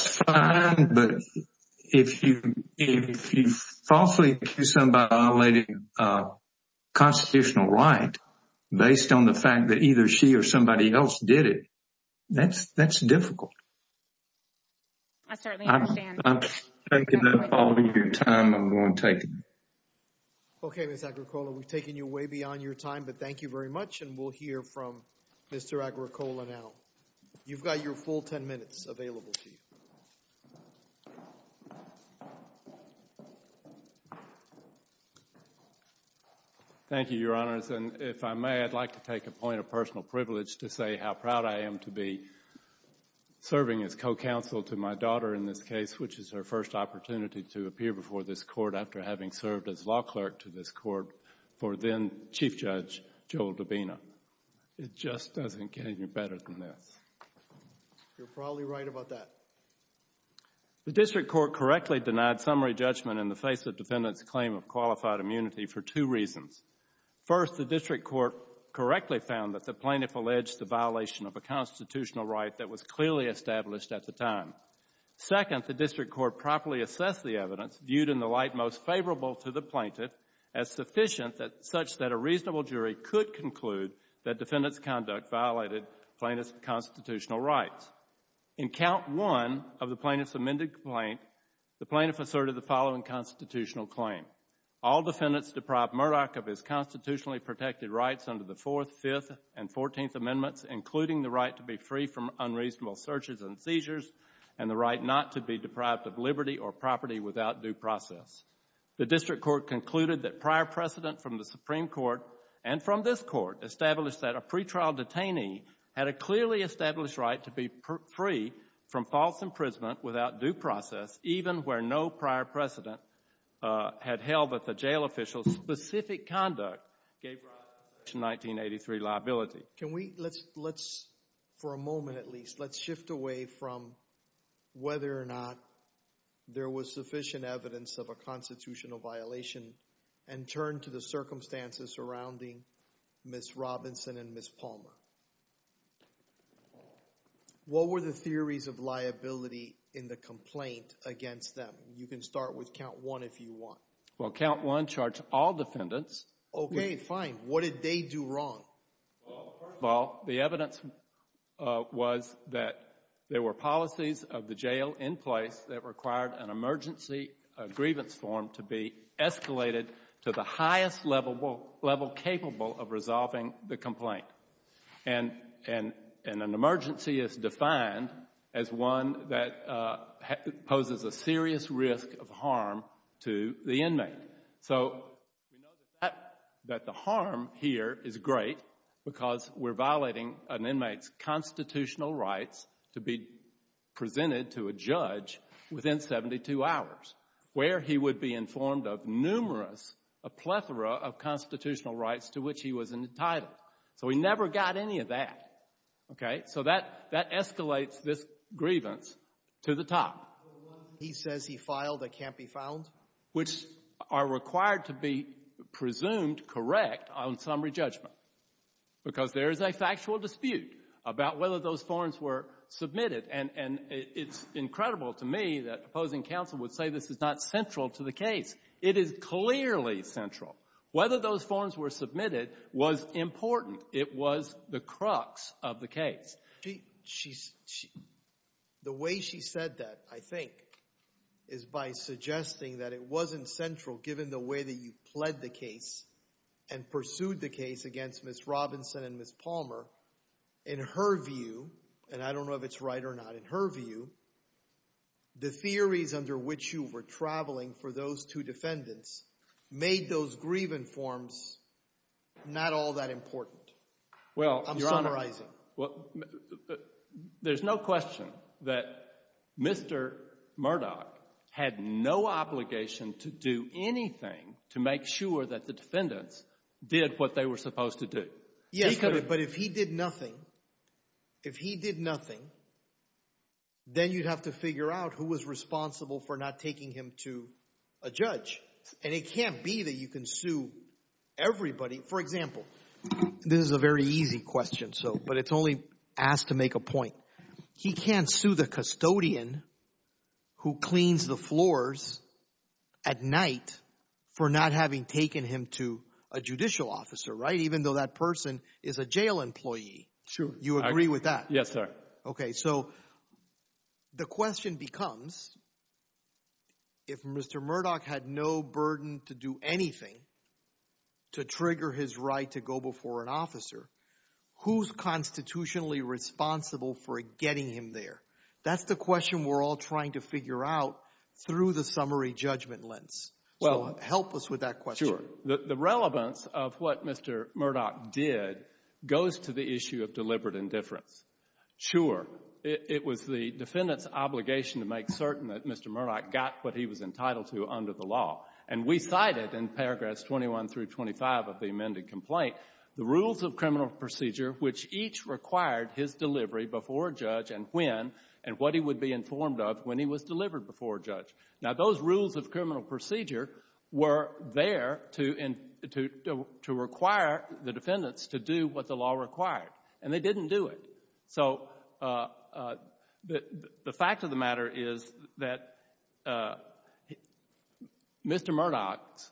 fine, but if you falsely accuse somebody of violating a constitutional right based on the fact that either she or somebody else did it, that's difficult. I certainly understand. I'm taking up all of your time. I'm going to take it. Okay, Ms. Agricola, we've taken you way beyond your time, but thank you very much and we'll hear from Mr. Agricola now. You've got your full 10 minutes available to you. Thank you, Your Honors, and if I may, I'd like to take a point of personal privilege to say how proud I am to be serving as co-counsel to my daughter in this case, which is her first opportunity to appear before this court after having served as law clerk to this court for then Chief Judge Joel Dubina. It just doesn't get any better than this. You're probably right about that. The district court correctly denied summary judgment in the face of defendant's claim of qualified immunity for two reasons. First, the district court correctly found that the plaintiff alleged the violation of a constitutional right that was clearly established at the time. Second, the district court properly assessed the evidence viewed in the light most favorable to the plaintiff as sufficient such that a reasonable jury could conclude that defendant's conduct violated plaintiff's constitutional rights. In count one of the plaintiff's amended complaint, the plaintiff asserted the following constitutional claim. All defendants deprived Murdoch of his constitutionally protected rights under the Fourth, Fifth, and Fourteenth Amendments, including the right to be free from unreasonable searches and seizures and the right not to be deprived of liberty or property without due process. The district court concluded that prior precedent from the Supreme Court and from this court established that a pretrial detainee had a clearly established right to be free from false imprisonment without due process even where no prior precedent had held that the jail official's specific conduct gave rise to Section 1983 liability. Can we, let's for a moment at least, let's shift away from whether or not there was sufficient evidence of a constitutional violation and turn to the circumstances surrounding Ms. Robinson and Ms. Palmer. What were the theories of liability in the complaint against them? You can start with count one if you want. Well, count one charged all defendants. Okay, fine. What did they do wrong? Well, first of all, the evidence was that there were policies of the jail in place that allowed the grievance form to be escalated to the highest level capable of resolving the complaint. And an emergency is defined as one that poses a serious risk of harm to the inmate. So we know that the harm here is great because we're violating an inmate's constitutional rights to be presented to a judge within 72 hours where he would be informed of numerous, a plethora of constitutional rights to which he was entitled. So we never got any of that, okay? So that escalates this grievance to the top. He says he filed a can't be found? Which are required to be presumed correct on summary judgment because there is a factual dispute about whether those forms were submitted. And it's incredible to me that opposing counsel would say this is not central to the case. It is clearly central. Whether those forms were submitted was important. It was the crux of the case. The way she said that, I think, is by suggesting that it wasn't central given the way that you pled the case and pursued the case against Ms. Robinson and Ms. Palmer. In her view, and I don't know if it's right or not, in her view, the theories under which you were traveling for those two defendants made those grievant forms not all that important. I'm summarizing. Well, there's no question that Mr. Murdoch had no obligation to do anything to make sure that the defendants did what they were supposed to do. Yes, but if he did nothing, if he did nothing, then you'd have to figure out who was responsible for not taking him to a judge. And it can't be that you can sue everybody. For example, this is a very easy question, but it's only asked to make a point. He can't sue the custodian who cleans the floors at night for not having taken him to a judicial officer, right, even though that person is a jail employee. You agree with that? Yes, sir. Okay, so the question becomes, if Mr. Murdoch had no burden to do anything to trigger his right to go before an officer, who's constitutionally responsible for getting him there? That's the question we're all trying to figure out through the summary judgment lens. Sure. The relevance of what Mr. Murdoch did goes to the issue of deliberate indifference. Sure. It was the defendant's obligation to make certain that Mr. Murdoch got what he was entitled to under the law. And we cited in paragraphs 21 through 25 of the amended complaint the rules of criminal procedure which each required his delivery before a judge and when, and what he would be informed of when he was delivered before a judge. Now those rules of criminal procedure were there to require the defendants to do what the law required, and they didn't do it. So the fact of the matter is that Mr. Murdoch's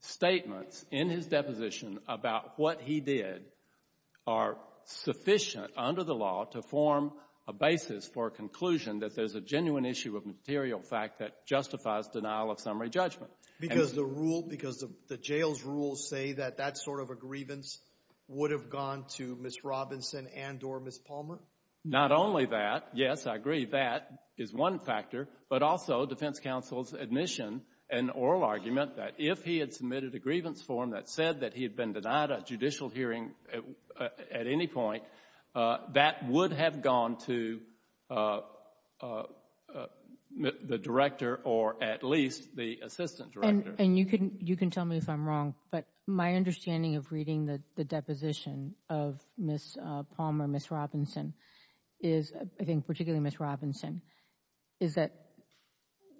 statements in his deposition about what he did are sufficient under the law to form a basis for a conclusion that there's a genuine issue of material fact that justifies denial of summary judgment. Because the rule, because the jail's rules say that that sort of a grievance would have gone to Ms. Robinson and or Ms. Palmer? Not only that, yes, I agree, that is one factor, but also defense counsel's admission and oral argument that if he had submitted a grievance form that said that he had been denied a judicial hearing at any point, that would have gone to the director or at least the assistant director. And you can tell me if I'm wrong, but my understanding of reading the deposition of Ms. Palmer, Ms. Robinson is, I think particularly Ms. Robinson, is that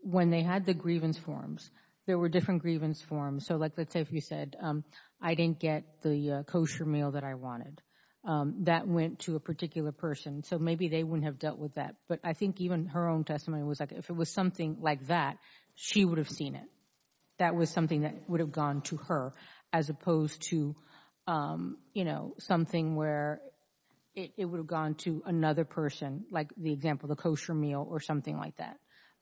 when they had the grievance forms, there were different grievance forms. So like, let's say if you said, I didn't get the kosher meal that I wanted. That went to a particular person. So maybe they wouldn't have dealt with that. But I think even her own testimony was like, if it was something like that, she would have seen it. That was something that would have gone to her as opposed to, you know, something where it would have gone to another person, like the example, the kosher meal or something like that.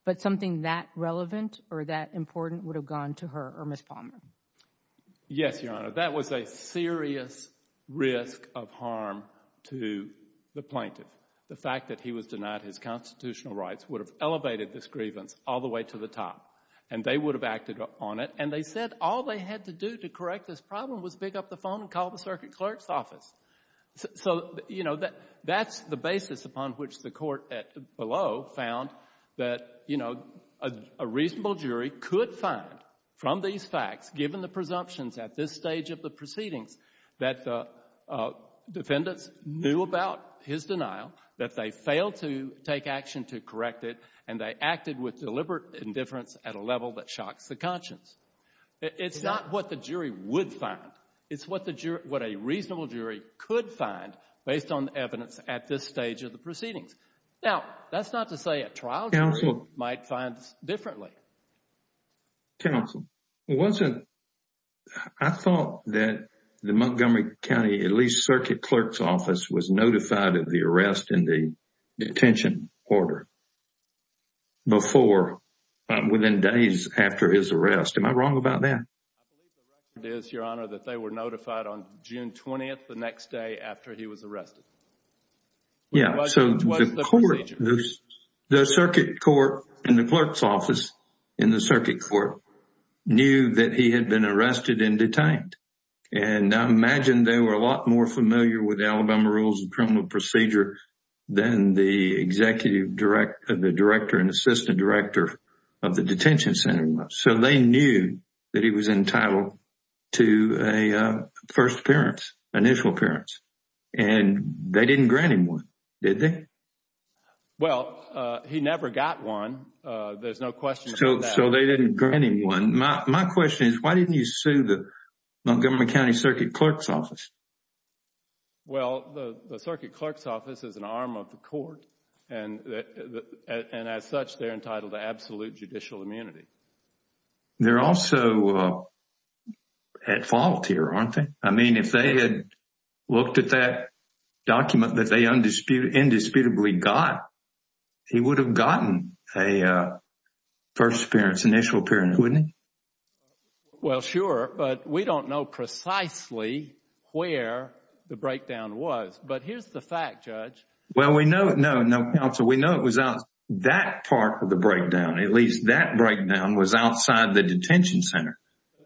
But something that relevant or that important would have gone to her or Ms. Palmer. Yes, Your Honor. That was a serious risk of harm to the plaintiff. The fact that he was denied his constitutional rights would have elevated this grievance all the way to the top. And they would have acted on it. And they said all they had to do to correct this problem was pick up the phone and call the circuit clerk's office. So, you know, that's the basis upon which the Court below found that, you know, a reasonable jury could find from these facts, given the presumptions at this stage of the proceedings, that the defendants knew about his denial, that they failed to take action to correct it, and they acted with deliberate indifference at a level that shocks the conscience. It's not what the jury would find. It's what a reasonable jury could find based on evidence at this stage of the proceedings. Now, that's not to say a trial jury might find this differently. Counsel, wasn't, I thought that the Montgomery County, at least, circuit clerk's office was notified of the arrest in the detention order before, within days after his arrest. Am I wrong about that? I believe the record is, Your Honor, that they were notified on June 20th, the next day after he was arrested. Yeah. So, the court, the circuit court and the clerk's office in the circuit court knew that he had been arrested and detained. And I imagine they were a lot more familiar with Alabama rules and criminal procedure than the executive director, the director and assistant director of the detention center was. So, they knew that he was entitled to a first appearance, initial appearance, and they didn't grant him one, did they? Well, he never got one. There's no question about that. So, they didn't grant him one. My question is, why didn't you sue the Montgomery County circuit clerk's office? Well, the circuit clerk's office is an arm of the court, and as such, they're entitled to absolute judicial immunity. They're also at fault here, aren't they? I mean, if they had looked at that document that they indisputably got, he would have gotten a first appearance, initial appearance, wouldn't he? Well, sure, but we don't know precisely where the breakdown was. But here's the fact, Judge. Well, we know, no, no, counsel. We know it was out, that part of the breakdown, at least that breakdown was outside the detention center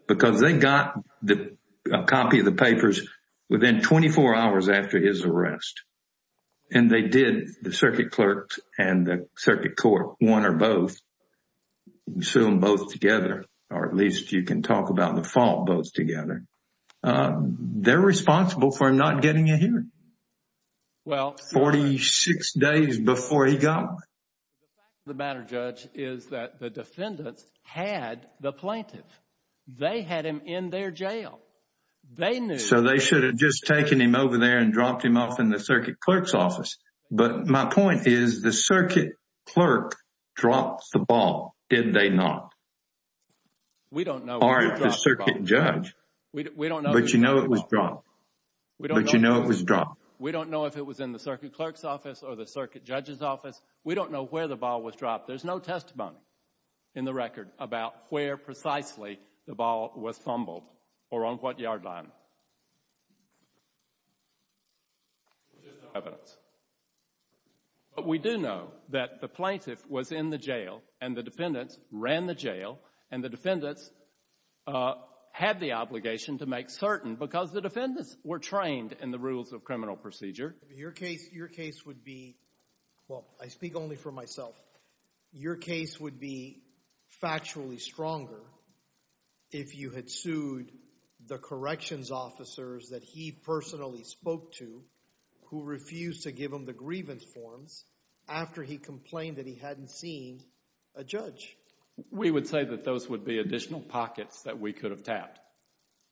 because they got a copy of the papers within 24 hours after his arrest. And they did, the circuit clerk and the circuit court, one or both, sue them both together, or at least you can talk about the fault both together. They're responsible for him not getting a hearing. Well. 46 days before he got one. The fact of the matter, Judge, is that the defendants had the plaintiff. They had him in their jail. They knew. So they should have just taken him over there and dropped him off in the circuit clerk's office. But my point is the circuit clerk dropped the ball, did they not? We don't know. Or the circuit judge. We don't know. But you know it was dropped. We don't know if it was in the circuit clerk's office or the circuit judge's office. We don't know where the ball was dropped. There's no testimony in the record about where precisely the ball was fumbled or on what yard line. There's no evidence. But we do know that the plaintiff was in the jail and the defendants ran the jail and the defendants were trained in the rules of criminal procedure. Your case, your case would be, well, I speak only for myself. Your case would be factually stronger if you had sued the corrections officers that he personally spoke to who refused to give him the grievance forms after he complained that he hadn't seen a judge. We would say that those would be additional pockets that we could have tapped.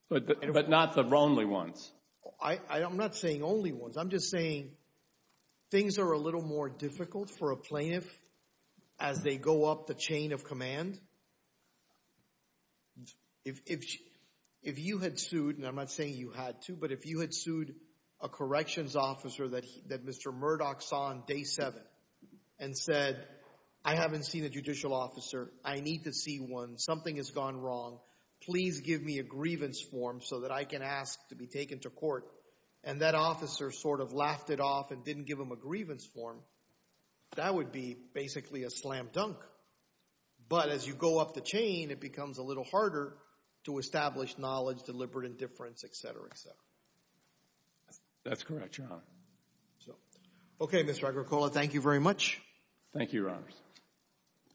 But not the only ones. I'm not saying only ones. I'm just saying things are a little more difficult for a plaintiff as they go up the chain of command. If you had sued, and I'm not saying you had to, but if you had sued a corrections officer that Mr. Murdoch saw on day seven and said, I haven't seen a judicial officer. I need to see one. Something has gone wrong. Please give me a grievance form so that I can ask to be taken to court. And that officer sort of laughed it off and didn't give him a grievance form. That would be basically a slam dunk. But as you go up the chain, it becomes a little harder to establish knowledge, deliberate indifference, et cetera, et cetera. That's correct, Your Honor. Okay, Mr. Agricola, thank you very much. Thank you, Your Honor.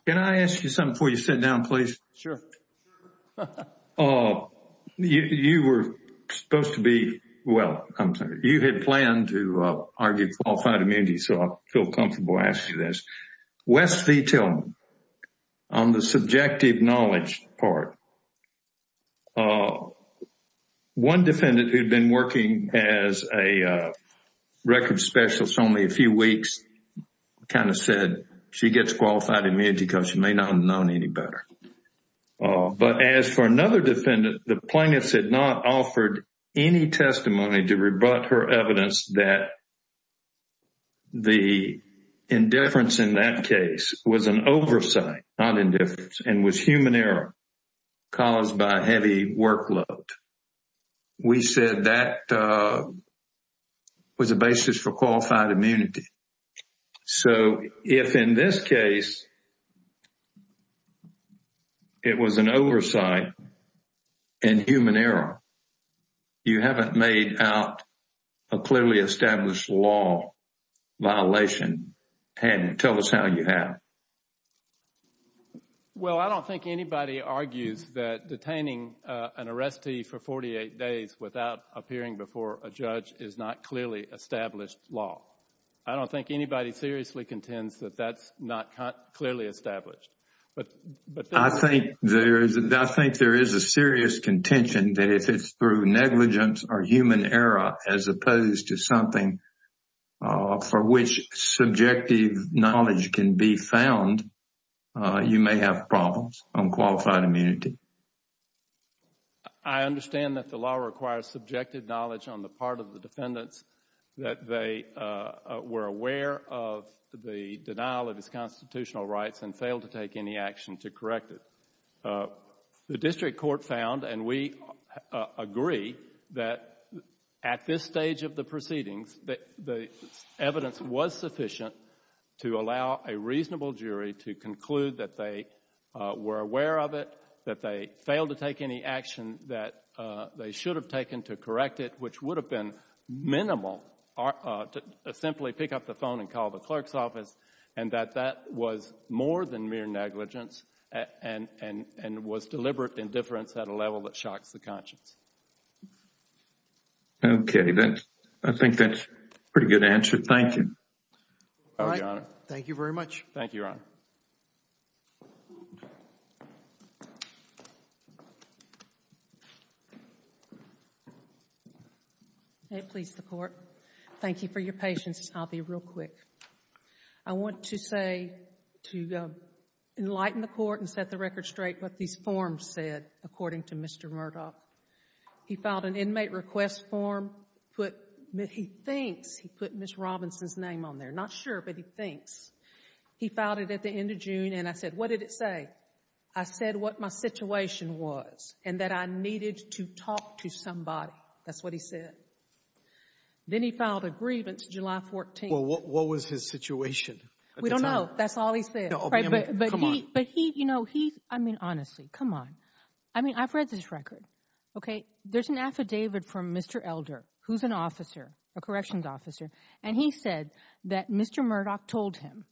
Can I ask you something before you sit down, please? Sure. You were supposed to be, well, you had planned to argue qualified immunity, so I feel comfortable asking you this. Wes V. Tillman, on the subjective knowledge part, one defendant who had been working as a records specialist only a few weeks kind of said she gets qualified immunity because she may not have known any better. But as for another defendant, the plaintiffs had not offered any testimony to rebut her evidence that the indifference in that case was an oversight, not indifference, and was human error caused by heavy workload. We said that was a basis for qualified immunity. So, if in this case it was an oversight and human error, you haven't made out a clearly established law violation, tell us how you have. Well, I don't think anybody argues that detaining an arrestee for 48 days without appearing before a judge is not clearly established law. I don't think anybody seriously contends that that's not clearly established. I think there is a serious contention that if it's through negligence or human error as opposed to something for which subjective knowledge can be found, you may have problems on qualified immunity. I understand that the law requires subjective knowledge on the part of the defendants that they were aware of the denial of his constitutional rights and failed to take any action to correct it. The district court found, and we agree, that at this stage of the proceedings, the evidence was sufficient to allow a reasonable jury to conclude that they were aware of it, that they failed to take any action that they should have taken to correct it, which would have been minimal to simply pick up the phone and call the clerk's office, and that that was more than mere negligence and was deliberate indifference at a level that shocks the conscience. Okay. I think that's a pretty good answer. Thank you. Thank you, Your Honor. Thank you very much. Thank you, Your Honor. May it please the Court. Thank you for your patience. I'll be real quick. I want to say, to enlighten the Court and set the record straight, what these forms said according to Mr. Murdoch. He filed an inmate request form. He thinks he put Ms. Robinson's name on there. Not sure, but he thinks. He filed it at the end of June, and I said, what did it say? I said what my situation was and that I needed to talk to somebody. That's what he said. Then he filed a grievance July 14th. What was his situation? We don't know. That's all he said. But he, you know, he's, I mean, honestly, come on. I mean, I've read this record, okay? There's an affidavit from Mr. Elder, who's an officer, a corrections officer, and he said that Mr. Murdoch told him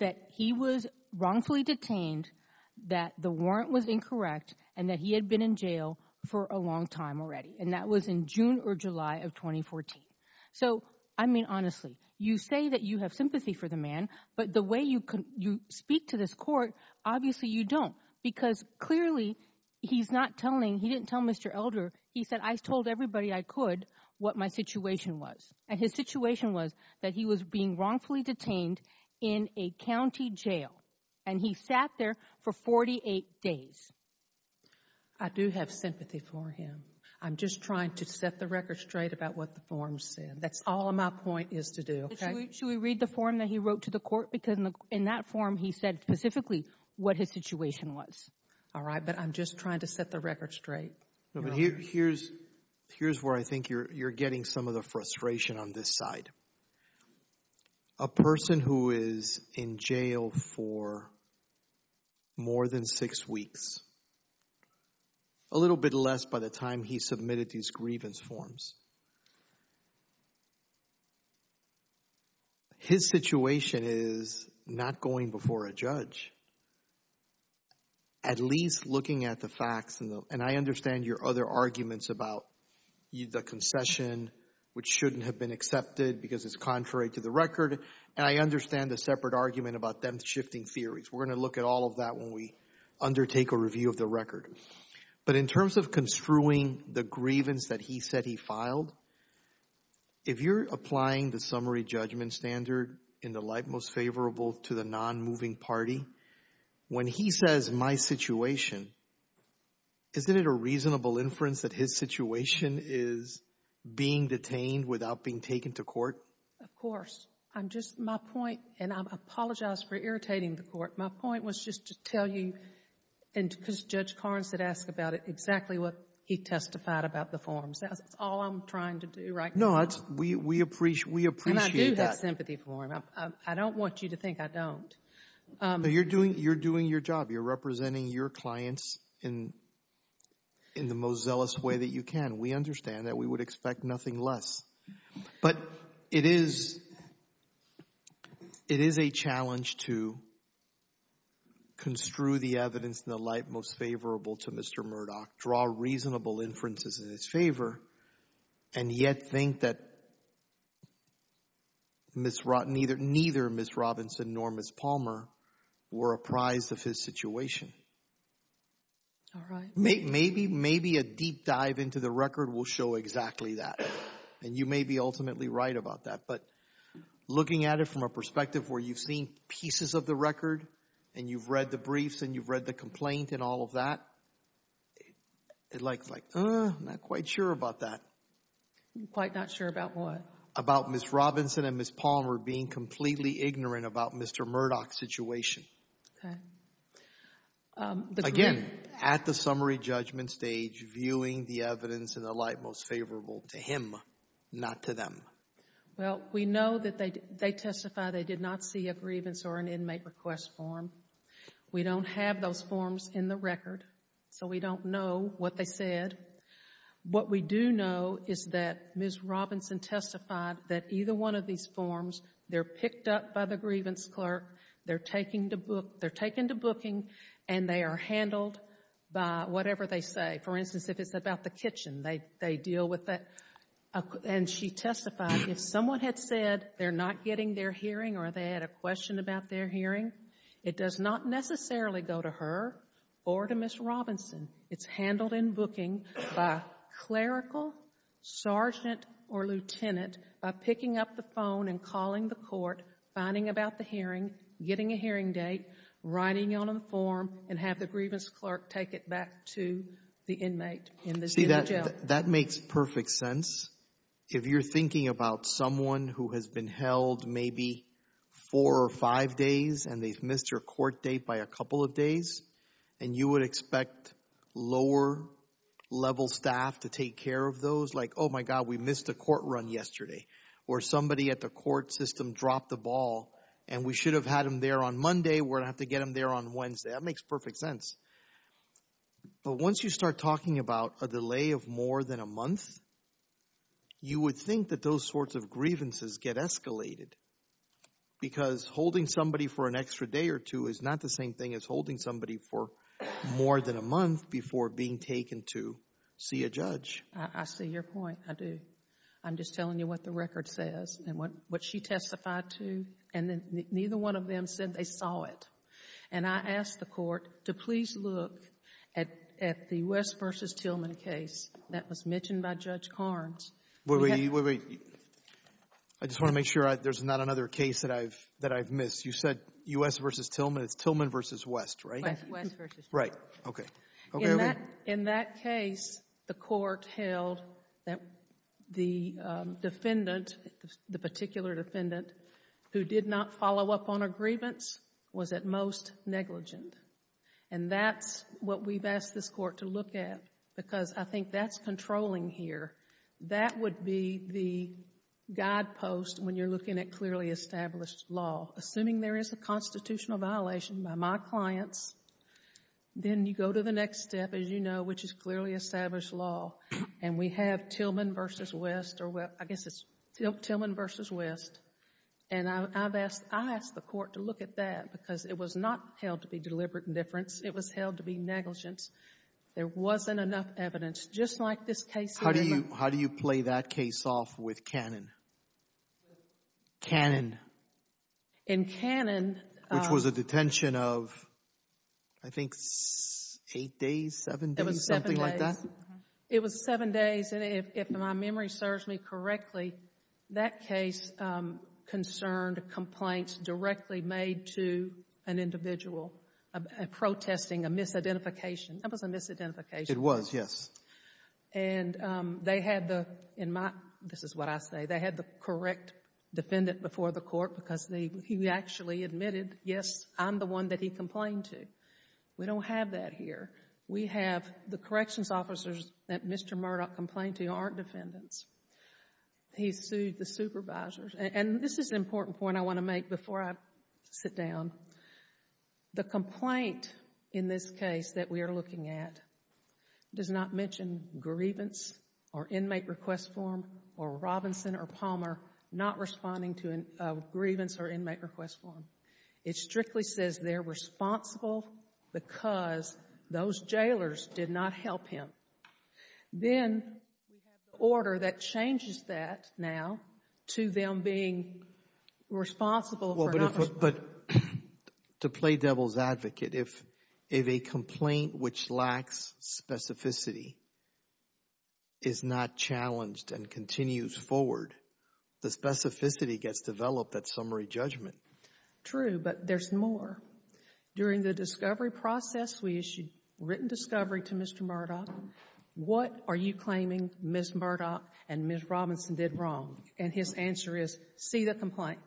that he was wrongfully detained, that the warrant was and that was in June or July of 2014. So I mean, honestly, you say that you have sympathy for the man, but the way you speak to this Court, obviously you don't, because clearly he's not telling, he didn't tell Mr. Elder. He said, I told everybody I could what my situation was, and his situation was that he was being wrongfully detained in a county jail, and he sat there for 48 days. I do have sympathy for him. I'm just trying to set the record straight about what the form said. That's all my point is to do, okay? Should we read the form that he wrote to the Court? Because in that form, he said specifically what his situation was. All right, but I'm just trying to set the record straight. No, but here's where I think you're getting some of the frustration on this side. A person who is in jail for more than six weeks, a little bit less by the time he submitted these grievance forms, his situation is not going before a judge, at least looking at the facts, and I understand your other arguments about the concession, which shouldn't have been accepted because it's contrary to the record, and I understand the separate argument about them shifting theories. We're going to look at all of that when we undertake a review of the record, but in terms of construing the grievance that he said he filed, if you're applying the summary judgment standard in the light most favorable to the non-moving party, when he says my situation, isn't it a reasonable inference that his situation is being detained without being taken to court? Of course. I'm just, my point, and I apologize for irritating the Court. My point was just to tell you, and because Judge Carnes had asked about it, exactly what he testified about the forms. That's all I'm trying to do right now. No, we appreciate that. And I do have sympathy for him. I don't want you to think I don't. You're doing your job. You're representing your clients in the most zealous way that you can. We understand that. We would expect nothing less. But it is a challenge to construe the evidence in the light most favorable to Mr. Murdoch, draw reasonable inferences in his favor, and yet think that neither Ms. Robinson nor Ms. Palmer are completely ignorant about Mr. Murdoch's situation. Maybe a deep dive into the record will show exactly that, and you may be ultimately right about that. But looking at it from a perspective where you've seen pieces of the record, and you've read the briefs, and you've read the complaint, and all of that, it's like, I'm not quite sure about that. Quite not sure about what? About Ms. Robinson and Ms. Palmer being completely ignorant about Mr. Murdoch's situation. Okay. Again, at the summary judgment stage, viewing the evidence in the light most favorable to him, not to them. Well, we know that they testify they did not see a grievance or an inmate request form. We don't have those forms in the record, so we don't know what they said. What we do know is that Ms. Robinson testified that either one of these forms, they're picked up by the grievance clerk, they're taken to booking, and they are handled by whatever they say. For instance, if it's about the kitchen, they deal with that. And she testified, if someone had said they're not getting their hearing or they had a question about their hearing, it does not necessarily go to her or to Ms. Robinson. It's handled in booking by clerical, sergeant, or lieutenant, by picking up the phone and finding about the hearing, getting a hearing date, writing on a form, and have the grievance clerk take it back to the inmate in the jail. That makes perfect sense. If you're thinking about someone who has been held maybe four or five days and they've missed their court date by a couple of days, and you would expect lower-level staff to take care of those, like, oh my God, we missed a court run yesterday, or somebody at the ball, and we should have had them there on Monday, we're going to have to get them there on Wednesday. That makes perfect sense. But once you start talking about a delay of more than a month, you would think that those sorts of grievances get escalated because holding somebody for an extra day or two is not the same thing as holding somebody for more than a month before being taken to see a judge. I see your point. I do. I'm just telling you what the record says and what she testified to, and neither one of them said they saw it. And I asked the court to please look at the West v. Tillman case that was mentioned by Judge Carnes. Wait, wait, wait. I just want to make sure there's not another case that I've missed. You said U.S. v. Tillman. It's Tillman v. West, right? West v. Tillman. Right. Okay. Okay. In that case, the court held that the defendant, the particular defendant who did not follow up on a grievance was at most negligent. And that's what we've asked this court to look at because I think that's controlling here. That would be the guidepost when you're looking at clearly established law. Assuming there is a constitutional violation by my clients, then you go to the next step, as you know, which is clearly established law. And we have Tillman v. West, or I guess it's Tillman v. West. And I've asked, I asked the court to look at that because it was not held to be deliberate indifference. It was held to be negligence. There wasn't enough evidence. Just like this case. How do you, how do you play that case off with canon? Canon. In canon. Which was a detention of, I think, eight days, seven days, something like that? It was seven days. And if my memory serves me correctly, that case concerned complaints directly made to an individual protesting a misidentification. That was a misidentification. It was, yes. And they had the, in my, this is what I say, they had the correct defendant before the court because he actually admitted, yes, I'm the one that he complained to. We don't have that here. We have the corrections officers that Mr. Murdoch complained to aren't defendants. He sued the supervisors. And this is an important point I want to make before I sit down. The complaint in this case that we are looking at does not mention grievance or inmate request form or Robinson or Palmer not responding to a grievance or inmate request form. It strictly says they're responsible because those jailers did not help him. Then we have the order that changes that now to them being responsible for not responding. But to play devil's advocate, if a complaint which lacks specificity is not challenged and continues forward, the specificity gets developed at summary judgment. True, but there's more. During the discovery process, we issued written discovery to Mr. Murdoch. What are you claiming Ms. Murdoch and Ms. Robinson did wrong? And his answer is, see the complaint.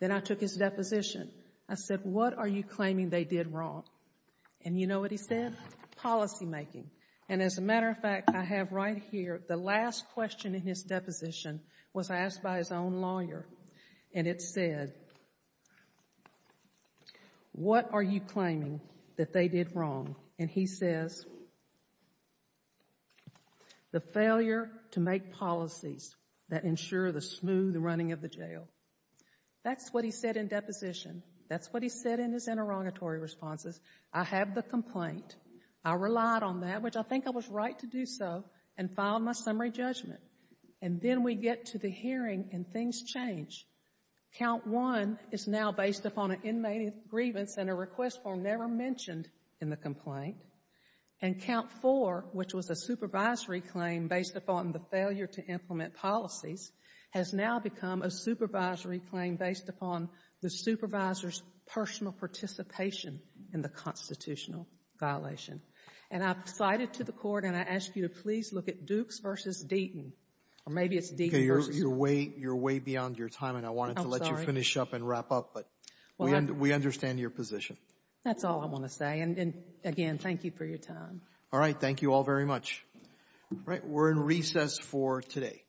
Then I took his deposition. I said, what are you claiming they did wrong? And you know what he said? Policymaking. And as a matter of fact, I have right here the last question in his deposition was asked by his own lawyer. And it said, what are you claiming that they did wrong? And he says, the failure to make policies that ensure the smooth running of the jail. That's what he said in deposition. That's what he said in his interrogatory responses. I have the complaint. I relied on that, which I think I was right to do so, and filed my summary judgment. And then we get to the hearing and things change. Count one is now based upon an inmate's grievance and a request for never mentioned in the complaint. And count four, which was a supervisory claim based upon the failure to implement policies, has now become a supervisory claim based upon the supervisor's personal participation in the constitutional violation. And I've cited to the Court, and I ask you to please look at Dukes v. Deaton, or maybe it's Deaton v. Murdoch. You're way beyond your time, and I wanted to let you finish up and wrap up, but we understand your position. That's all I want to say. And again, thank you for your time. All right. Thank you all very much. All right. We're in recess for today.